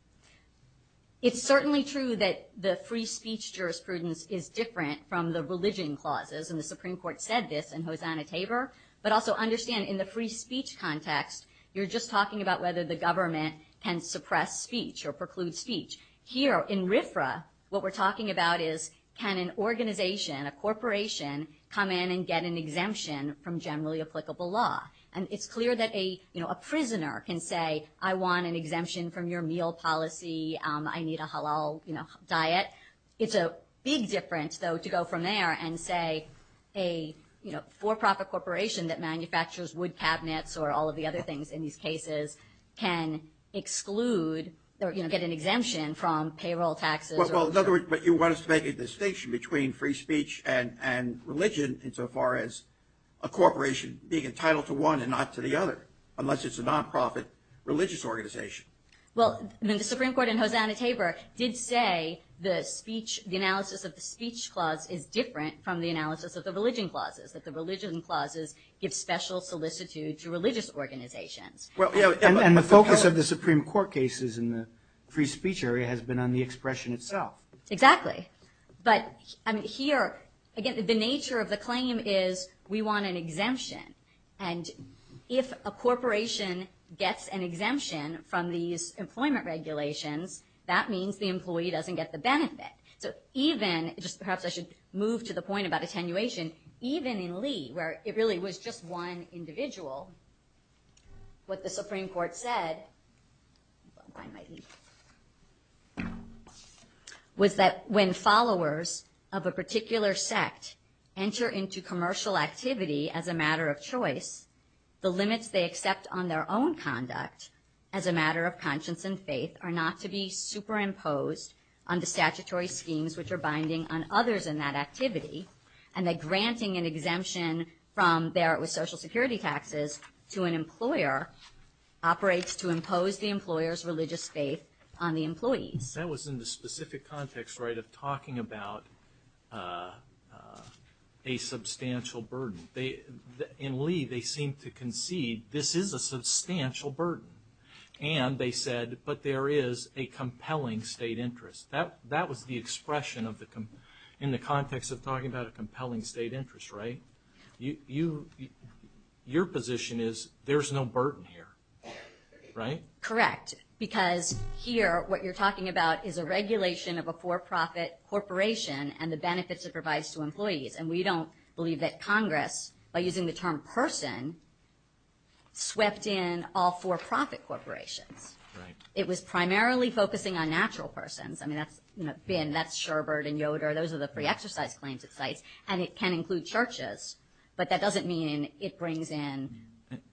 It's certainly true that the free speech jurisprudence is different from the religion clauses, and the Supreme Court said this in Hosanna Tabor, but also understand in the free speech context you're just talking about whether the government can suppress speech or preclude speech. Here in RFRA, what we're talking about is can an organization, a corporation, come in and get an exemption from generally applicable law. And it's not that a prisoner can say I want an exemption from your meal policy, I need a halal diet. It's a big difference, though, to go from there and say a for-profit corporation that manufactures wood cabinets or all of the other things in these cases can exclude or get an exemption from payroll taxes. But you want to make a distinction between free speech and religion insofar as a corporation being entitled to one and not to the other, unless it's a non-profit religious organization. Well, the Supreme Court in Hosanna Tabor did say the analysis of the speech clause is different from the analysis of the religion clauses, that the religion clauses give special solicitude to religious organizations. Well, you know, and the focus of the Supreme Court cases in the free speech area has been on the expression itself. Exactly. But here, again, the nature of the claim is we want an exemption, and if a corporation gets an exemption from these employment regulations, that means the employee doesn't get the benefit. So even, perhaps I should move to the point about attenuation, even in Lee, where it really was just one individual, what the Supreme Court said was that when followers of a particular sect enter into commercial activity as a matter of choice, the limits they accept on their own conduct as a matter of conscience and faith are not to be superimposed on the statutory schemes which are binding on others in that activity, and that granting an exemption from Barrett with Social Security taxes to an employer operates to impose the employer's religious faith on the employee. That was in the specific context, right, of talking about a substantial burden. In Lee, they seem to concede this is a substantial burden, and they said, but there is a compelling state interest. That was the expression in the context of talking about a compelling state interest, right? Your position is there's no burden here, right? Correct, because here what you're talking about is a regulation of a for-profit corporation and the benefits it provides to employees, and we don't believe that Congress, by using the term person, swept in all for-profit corporations. It was primarily focusing on natural persons. I mean, that's Sherbert and Yoder, those are the pre-exercise claims it cites, and it can include churches, but that doesn't mean it brings in...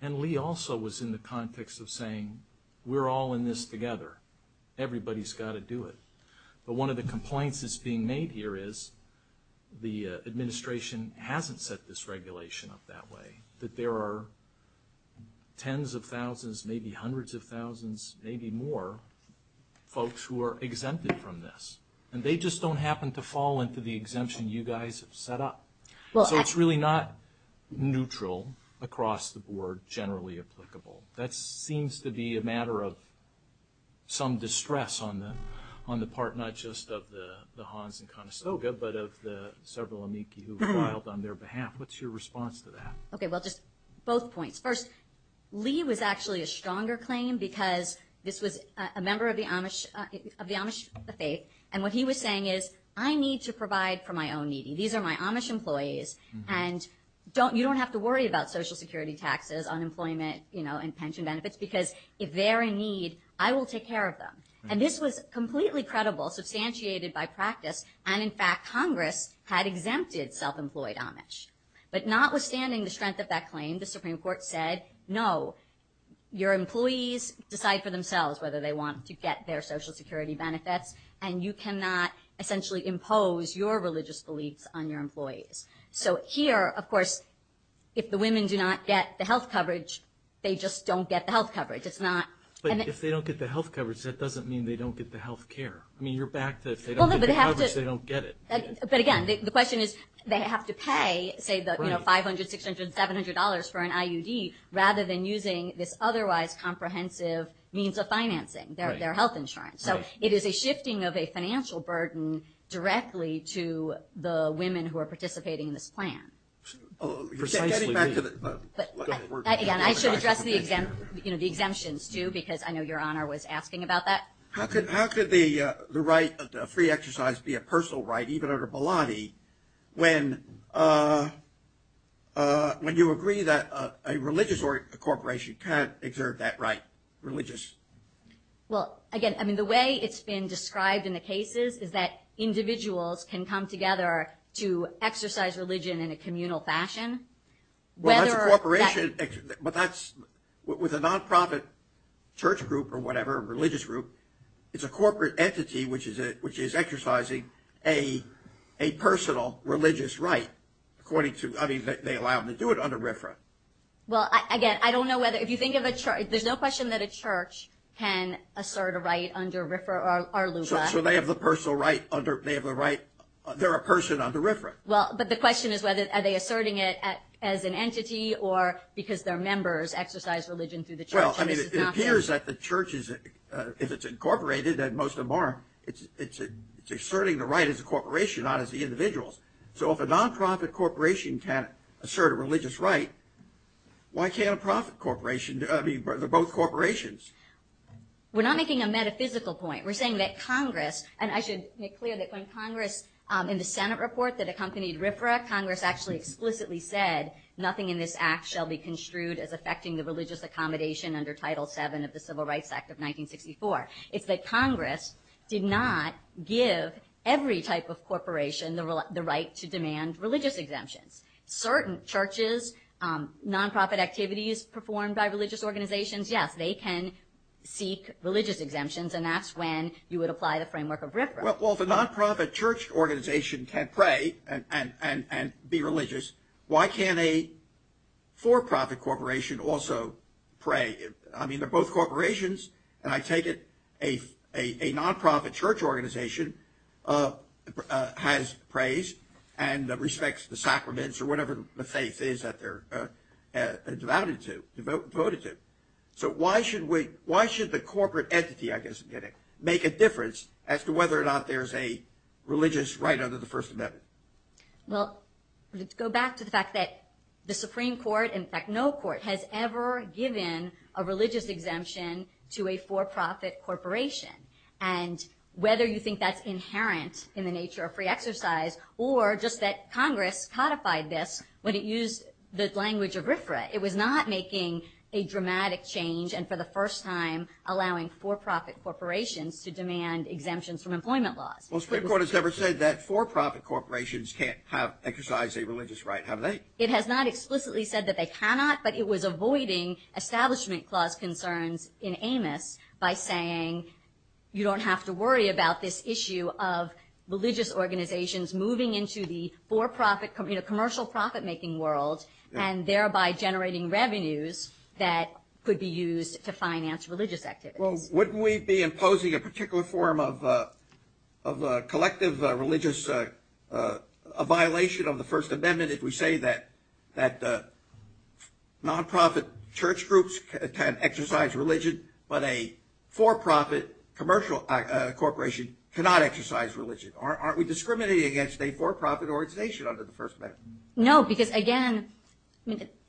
And Lee also was in the context of saying we're all in this together. Everybody's got to do it, but one of the complaints that's being made here is the administration hasn't set this regulation up that way, that there are tens of thousands, maybe hundreds of thousands, maybe more folks who are exempted from this, and they just don't happen to fall into the exemption you guys have set up. So it's really not neutral across the board, generally applicable. That seems to be a matter of some distress on the part, not just of the Hans and Conestoga, but of the several amici who filed on their behalf. What's your response to that? Okay, well, just both points. First, Lee was actually a stronger claim, because this was a member of the Amish faith, and what he was saying is, I need to provide for my own needing. These are my Amish employees, and you don't have to worry about Social Security taxes, unemployment, you know, and pension benefits, because if they're in need, I will take care of them. And this was completely credible, substantiated by practice, and in fact, Congress had exempted self-employed Amish. But notwithstanding the strength of that claim, the Supreme Court said, no, your employees decide for themselves whether they want to get their Social Security benefits, and you cannot essentially impose your religious beliefs on your employees. And so, you know, it's not that they don't get the health coverage, they just don't get the health coverage. It's not... But if they don't get the health coverage, that doesn't mean they don't get the health care. I mean, you're back to, if they don't get the health coverage, they don't get it. But again, the question is, they have to pay, say, the $500, $600, $700 for an IUD, rather than using this otherwise comprehensive means of financing their health insurance. So, it is a shifting of a financial burden directly to the women who are participating in this plan. Again, I should address the exemptions, too, because I know Your Honor was asking about that. How could the right of free exercise be a personal right, even under Baladi, when you agree that a religious corporation can't exert that right? Religious? Well, again, I mean, the way it's been described in the cases is that individuals can come together to exercise religion in a communal fashion, whether... Well, that's a corporation, but that's... With a nonprofit church group or whatever, a religious group, it's a corporate entity which is exercising a personal religious right, according to... I mean, they allow them to do it under RFRA. Well, again, I don't know whether... If you think of a church... There's no question that a church can assert a right under RFRA or LUCA. So, they have the personal right under... They have the right... They're a person under RFRA. Well, but the question is whether... Are they asserting it as an entity or because they're members exercise religion through the church? Well, I mean, it appears that the church is... If it's incorporated, then most of them are. It's asserting the right as a corporation, not as the individuals. So, if a nonprofit corporation can assert a religious right, why can't a profit corporation... I mean, both corporations? We're not making a metaphysical point. We're saying that Congress... And I should make clear that when Congress, in the Senate report that accompanied RFRA, Congress actually explicitly said nothing in this act shall be construed as affecting the religious accommodation under Title VII of the Civil Rights Act of 1964. It's that Congress did not give every type of corporation the right to demand religious exemption. Certain churches, nonprofit activities performed by religious organizations, yes, they can seek religious exemptions, and that's when you would apply the framework of RFRA. Well, if a nonprofit church organization can pray and be religious, why can't a for-profit corporation also pray? I mean, they're both corporations, and I take it a nonprofit church organization has praise and respects the sacraments or whatever the faith is that they're devoted to. So, why should the corporate entity, I guess I'm getting, make a difference as to whether or not there's a religious right under the First Amendment? Well, let's go back to the fact that the Supreme Court, in fact, no court has ever given a religious exemption to a for-profit corporation. And whether you think that's inherent in the nature of free exercise or just that Congress codified this when it used the language of RFRA, it was not making a dramatic change and for the first time allowing for-profit corporations to demand exemptions from employment laws. Well, the Supreme Court has never said that for-profit corporations can't exercise a religious right, have they? It has not explicitly said that they cannot, but it was avoiding Establishment Clause concerns in Amos by saying you don't have to worry about this issue of religious organizations moving into the commercial profit-making world and thereby generating revenues that could be used to finance religious activities. Well, wouldn't we be imposing a particular form of collective religious, a violation of the First Amendment if we say that non-profit church groups can exercise religion, but a for-profit commercial corporation cannot exercise religion? Aren't we discriminating against a for-profit organization under the First Amendment? No, because, again,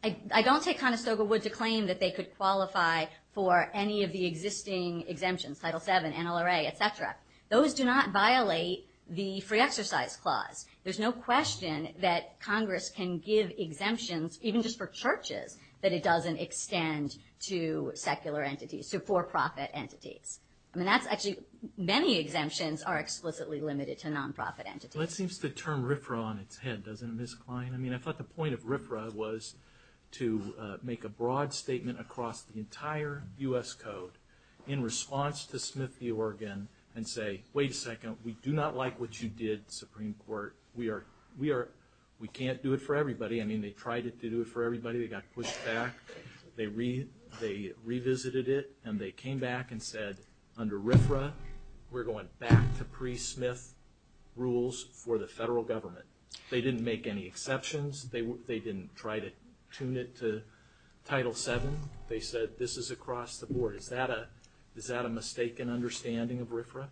I don't take Conestoga Wood to claim that they could qualify for any of the existing exemptions, Title VII, NLRA, et cetera. Those do not violate the Free Exercise Clause. There's no question that Congress can give exemptions, even just for churches, that it doesn't extend to secular entities, to for-profit entities. Many exemptions are explicitly limited to non-profit entities. That seems to turn RFRA on its head, doesn't it, Ms. Klein? I thought the point of RFRA was to make a broad statement across the entire U.S. Code in response to Smith v. Oregon and say, wait a second, we do not like what you did, Supreme Court. We can't do it for everybody. I mean, they tried to do it for everybody. They got pushed back. They revisited it, and they came back and said, under RFRA, we're going back to pre-Smith rules for the federal government. They didn't make any exceptions. They didn't try to tune it to Title VII. They said, this is across the board. Is that a mistaken understanding of RFRA?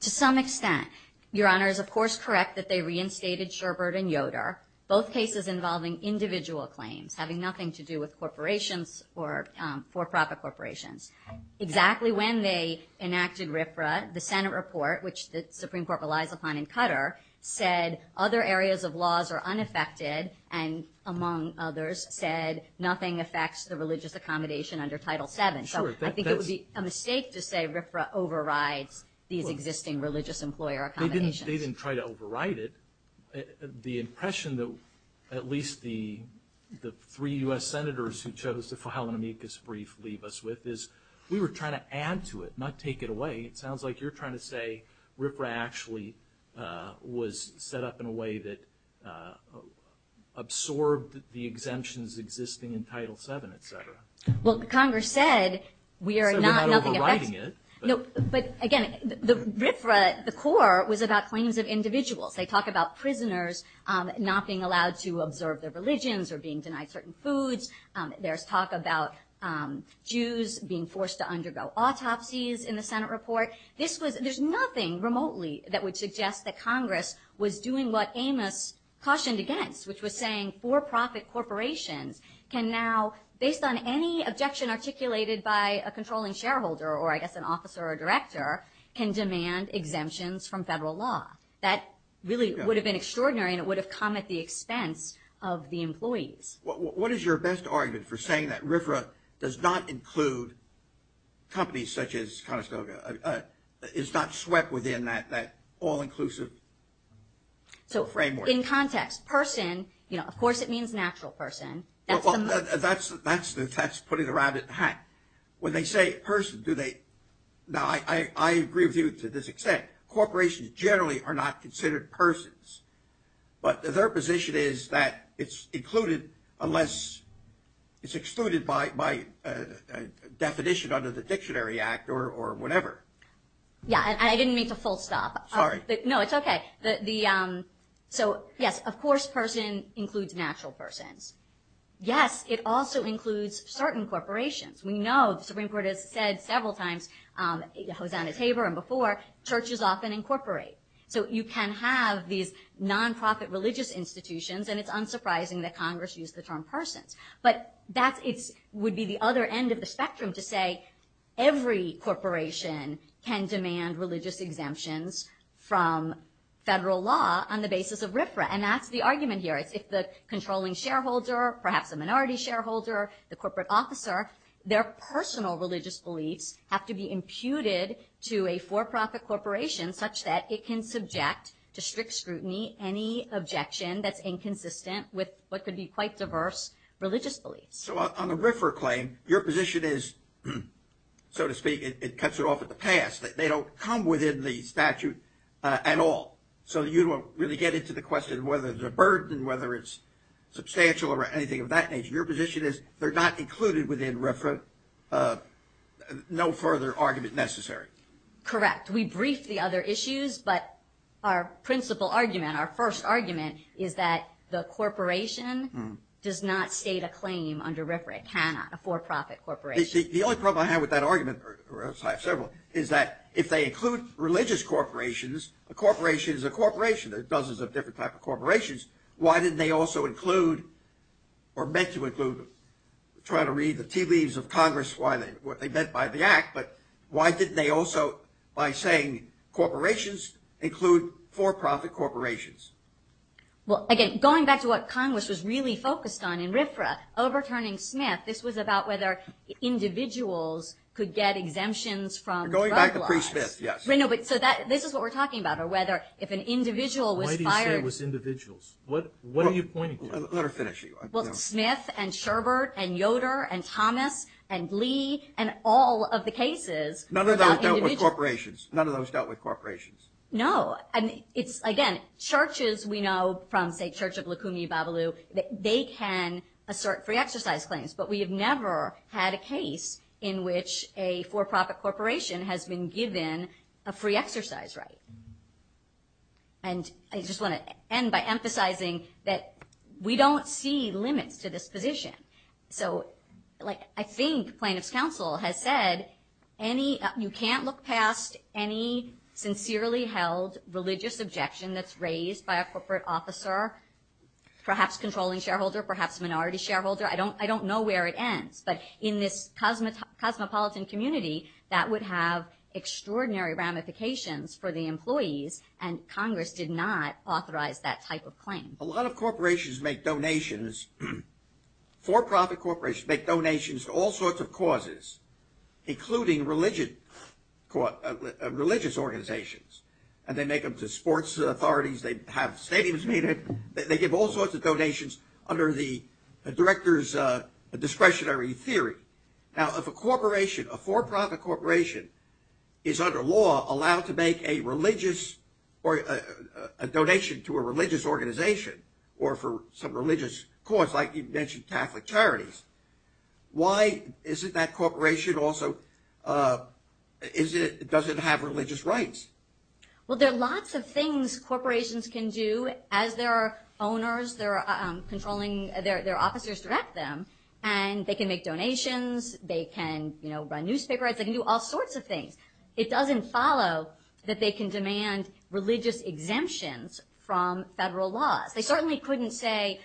To some extent, Your Honor is, of course, correct that they reinstated Sherbert and Yoder, both cases involving individual claims, having nothing to do with corporations or for-profit corporations. Exactly when they enacted RFRA, the Senate report, which the Supreme Court relies upon in Qatar, said other areas of laws are unaffected and, among others, said nothing affects the religious accommodation under Title VII. So I think it would be a mistake to say RFRA overrides these existing religious employer accommodations. They didn't try to override it. The impression that at least the three U.S. senators who chose to file an amicus brief leave us with is, we were trying to add to it, not take it away. It sounds like you're trying to say RFRA actually was set up in a way that absorbed the exemptions existing in Title VII, etc. Well, Congress said we are not looking at that. They're not overriding it. No, but, again, RFRA at the core was about claims of individuals. They talk about prisoners not being allowed to observe their religions or being denied certain foods. There's talk about Jews being forced to undergo autopsies in the Senate report. There's nothing remotely that would suggest that Congress was doing what Amos cautioned against, which was saying for-profit corporations can now, based on any objection articulated by a controlling shareholder, or I guess an officer or a director, can demand exemptions from federal law. That really would have been extraordinary, and it would have come at the expense of the employees. What is your best argument for saying that RFRA does not include companies such as Conestoga, is not swept within that all-inclusive framework? So, in context, person, you know, of course it means natural person. Well, that's the test, putting it around its hat. When they say person, do they – now, I agree with you to this extent. Corporations generally are not considered persons, but their position is that it's included unless it's excluded by definition under the Dictionary Act or whatever. Yeah, and I didn't mean to full stop. Sorry. No, it's okay. So, yes, of course person includes natural person. Yes, it also includes certain corporations. We know the Supreme Court has said several times, Hosanna Tabor and before, churches often incorporate. So you can have these nonprofit religious institutions, and it's unsurprising that Congress used the term person. But that would be the other end of the spectrum to say every corporation can demand religious exemptions from federal law on the basis of RFRA. And that's the argument here. If the controlling shareholder, perhaps the minority shareholder, the corporate officer, their personal religious beliefs have to be imputed to a for-profit corporation such that it can subject to strict scrutiny any objection that's inconsistent with what could be quite diverse religious beliefs. So on the RIFRA claim, your position is, so to speak, it cuts it off at the pass, that they don't come within the statute at all. So you don't really get into the question whether it's a burden, whether it's substantial or anything of that nature. Your position is they're not included within RIFRA, no further argument necessary. Correct. We briefed the other issues, but our principal argument, our first argument, is that the corporation does not state a claim under RIFRA. It cannot, a for-profit corporation. The only problem I have with that argument, or I have several, is that if they include religious corporations, a corporation is a corporation. There's dozens of different types of corporations. Why didn't they also include or meant to include, trying to read the TV's of Congress, what they meant by the act, but why didn't they also, by saying corporations, include for-profit corporations? Well, again, going back to what Congress was really focused on in RIFRA, overturning Smith, this was about whether individuals could get exemptions from the drug laws. Going back to pre-Smith, yes. So this is what we're talking about, or whether if an individual was fired. Why do you say it was individuals? What are you pointing to? Let her finish. Well, Smith and Sherbert and Yoder and Thomas and Lee and all of the cases. None of those dealt with corporations. None of those dealt with corporations. No. Again, churches we know from, say, Church of Lacunae Babalu, they can assert free exercise claims, but we have never had a case in which a for-profit corporation has been given a free exercise right. And I just want to end by emphasizing that we don't see limits to this position. So, like, I think plaintiff's counsel has said you can't look past any sincerely held religious objection that's raised by a corporate officer, perhaps controlling shareholder, perhaps minority shareholder. I don't know where it ends. But in this cosmopolitan community, that would have extraordinary ramifications for the employees, and Congress did not authorize that type of claim. A lot of corporations make donations. For-profit corporations make donations to all sorts of causes, including religious organizations. And they make them to sports authorities. They have stadiums needed. They give all sorts of donations under the director's discretionary theory. Now, if a corporation, a for-profit corporation, is under law allowed to make a religious or a donation to a religious organization or for some religious cause, like you mentioned Catholic Charities, why is it that corporation also doesn't have religious rights? Well, there are lots of things corporations can do. As their owners, their controlling, their officers direct them, and they can make donations. They can, you know, run newspaper ads. They can do all sorts of things. It doesn't follow that they can demand religious exemptions from federal laws. They certainly couldn't say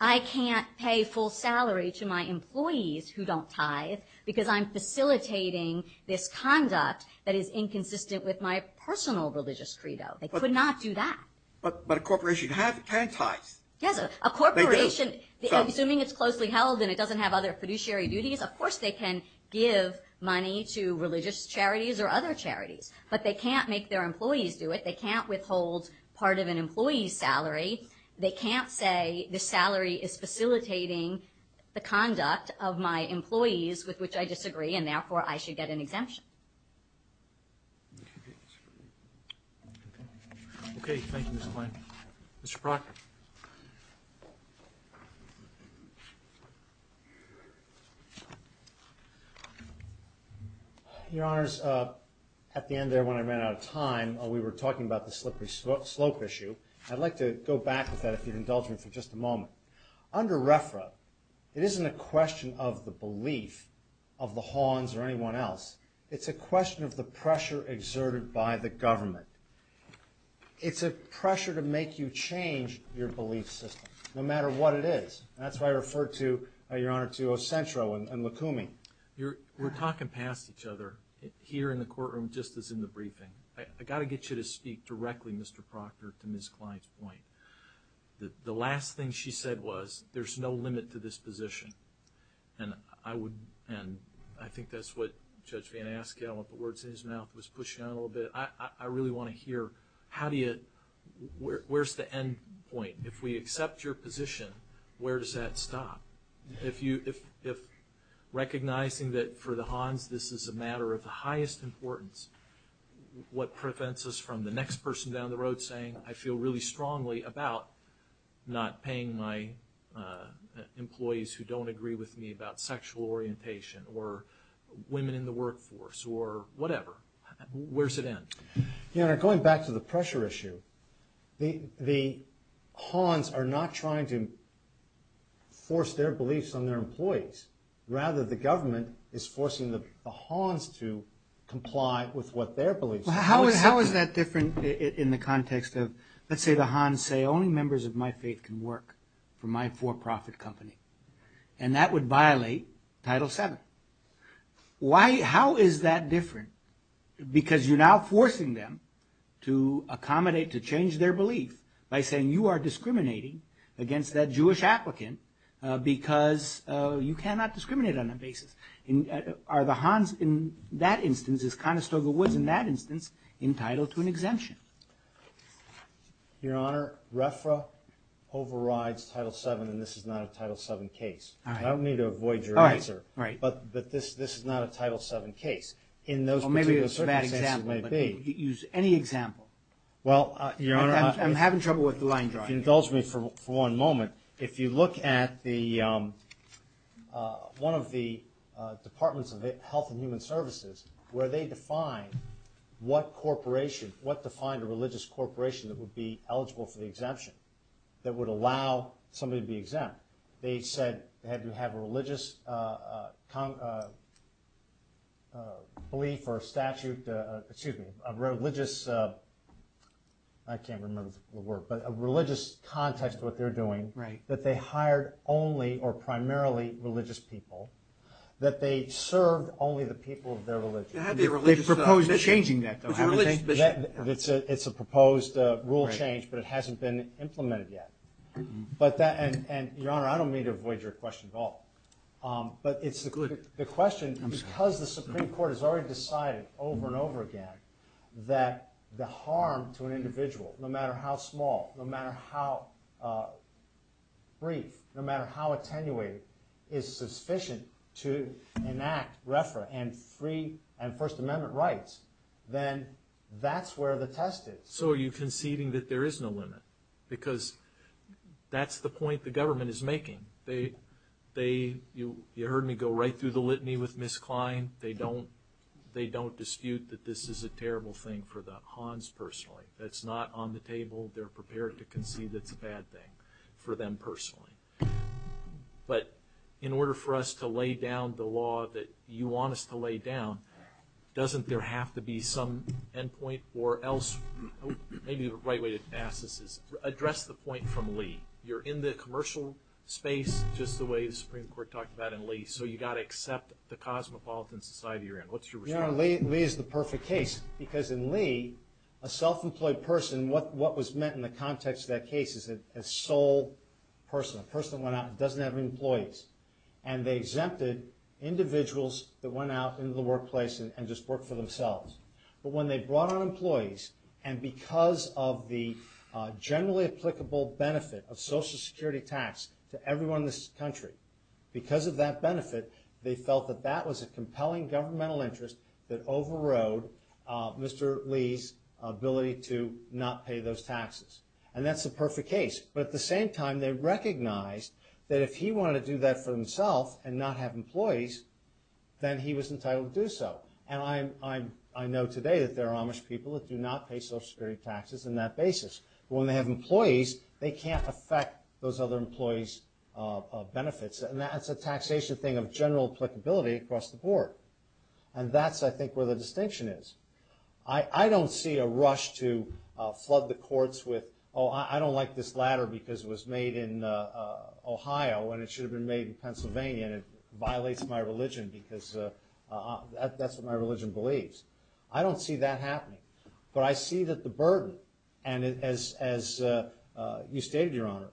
I can't pay full salary to my employees who don't tithe because I'm facilitating this conduct that is inconsistent with my personal religious credo. They could not do that. But a corporation can tithe. Yes, a corporation, assuming it's closely held and it doesn't have other fiduciary duties, of course they can give money to religious charities or other charities. But they can't make their employees do it. They can't withhold part of an employee's salary. They can't say this salary is facilitating the conduct of my employees, with which I disagree, and therefore I should get an exemption. Any other questions? Okay, thank you, Mr. Klein. Mr. Kroc? Your Honors, at the end there when I ran out of time, we were talking about the slippery slope issue. I'd like to go back to that, the indulgence, for just a moment. Under RFRA, it isn't a question of the belief of the Hawns or anyone else. It's a question of the pressure exerted by the government. It's a pressure to make you change your belief system, no matter what it is. That's why I referred to, Your Honor, to Acentro and Lukumi. We're talking past each other here in the courtroom just as in the briefing. I've got to get you to speak directly, Mr. Proctor, to Ms. Klein's point. The last thing she said was, there's no limit to this position. And I think that's what Judge Van Askell, with the words in his mouth, was pushing out a little bit. I really want to hear, where's the end point? If we accept your position, where does that stop? If recognizing that for the Hawns this is a matter of the highest importance, what prevents us from the next person down the road saying, I feel really strongly about not paying my employees who don't agree with me about sexual orientation, or women in the workforce, or whatever, where's the end? Your Honor, going back to the pressure issue, the Hawns are not trying to force their beliefs on their employees. Rather, the government is forcing the Hawns to comply with what their beliefs are. How is that different in the context of, let's say the Hawns say, only members of my faith can work for my for-profit company. And that would violate Title VII. How is that different? Because you're now forcing them to accommodate, to change their beliefs, by saying you are discriminating against that Jewish applicant, because you cannot discriminate on that basis. Are the Hawns in that instance, as Conestoga was in that instance, entitled to an exemption? Your Honor, RFRA overrides Title VII, and this is not a Title VII case. I don't mean to avoid your answer, but this is not a Title VII case. Maybe it's a bad example, but use any example. Well, Your Honor, if you indulge me for one moment, if you look at one of the departments of Health and Human Services, where they define what corporation, what defined a religious corporation that would be eligible for the exemption, that would allow somebody to be exempt. They said, have you had a religious belief or statute, excuse me, a religious, I can't remember the word, but a religious context of what they're doing, that they hired only or primarily religious people, that they served only the people of their religion. They proposed changing that, though. It's a proposed rule change, but it hasn't been implemented yet. Your Honor, I don't mean to avoid your question at all, but the question, because the Supreme Court has already decided over and over again that the harm to an individual, no matter how small, no matter how brief, no matter how attenuated, is sufficient to enact RFRA and First Amendment rights, then that's where the test is. So are you conceding that there is no limit? Because that's the point the government is making. You heard me go right through the litany with Ms. Klein. They don't dispute that this is a terrible thing for the Hans personally. That's not on the table. They're prepared to concede it's a bad thing for them personally. But in order for us to lay down the law that you want us to lay down, doesn't there have to be some end point? Or else, maybe the right way to ask this is, address the point from Lee. You're in the commercial space, just the way the Supreme Court talked about in Lee, so you've got to accept the cosmopolitan society you're in. What's your response? Lee is the perfect case, because in Lee, a self-employed person, what was meant in the context of that case is a sole person. A person that went out and doesn't have any employees. And they exempted individuals that went out into the workplace and just worked for themselves. But when they brought on employees, and because of the generally applicable benefit of Social Security tax to everyone in this country, because of that benefit, they felt that that was a compelling governmental interest that overrode Mr. Lee's ability to not pay those taxes. And that's the perfect case. But at the same time, they recognized that if he wanted to do that for himself and not have employees, then he was entitled to do so. And I know today that there are Amish people that do not pay Social Security taxes on that basis. But when they have employees, they can't affect those other employees' benefits. And that's a taxation thing of general applicability across the board. And that's, I think, where the distinction is. I don't see a rush to flood the courts with, oh, I don't like this ladder because it was made in Ohio and it should have been made in Pennsylvania and it violates my religion because that's what my religion believes. I don't see that happening. But I see that the burden, and as you stated, Your Honor,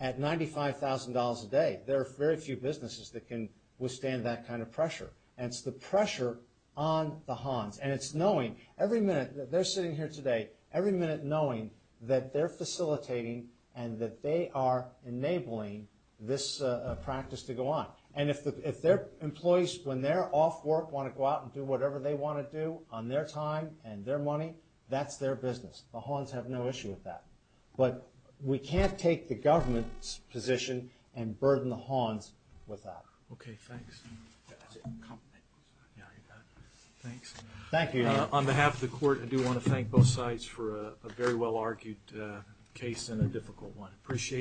at $95,000 a day, there are very few businesses that can withstand that kind of pressure. And it's the pressure on the Hans. And it's knowing every minute that they're sitting here today, every minute knowing that they're facilitating and that they are enabling this practice to go on. And if their employees, when they're off work, want to go out and do whatever they want to do on their time and their money, that's their business. The Hans have no issue with that. But we can't take the government's position and burden the Hans with that. Okay, thanks. Thank you, Your Honor. On behalf of the court, I do want to thank both sides for a very well-argued case and a difficult one. Appreciate it.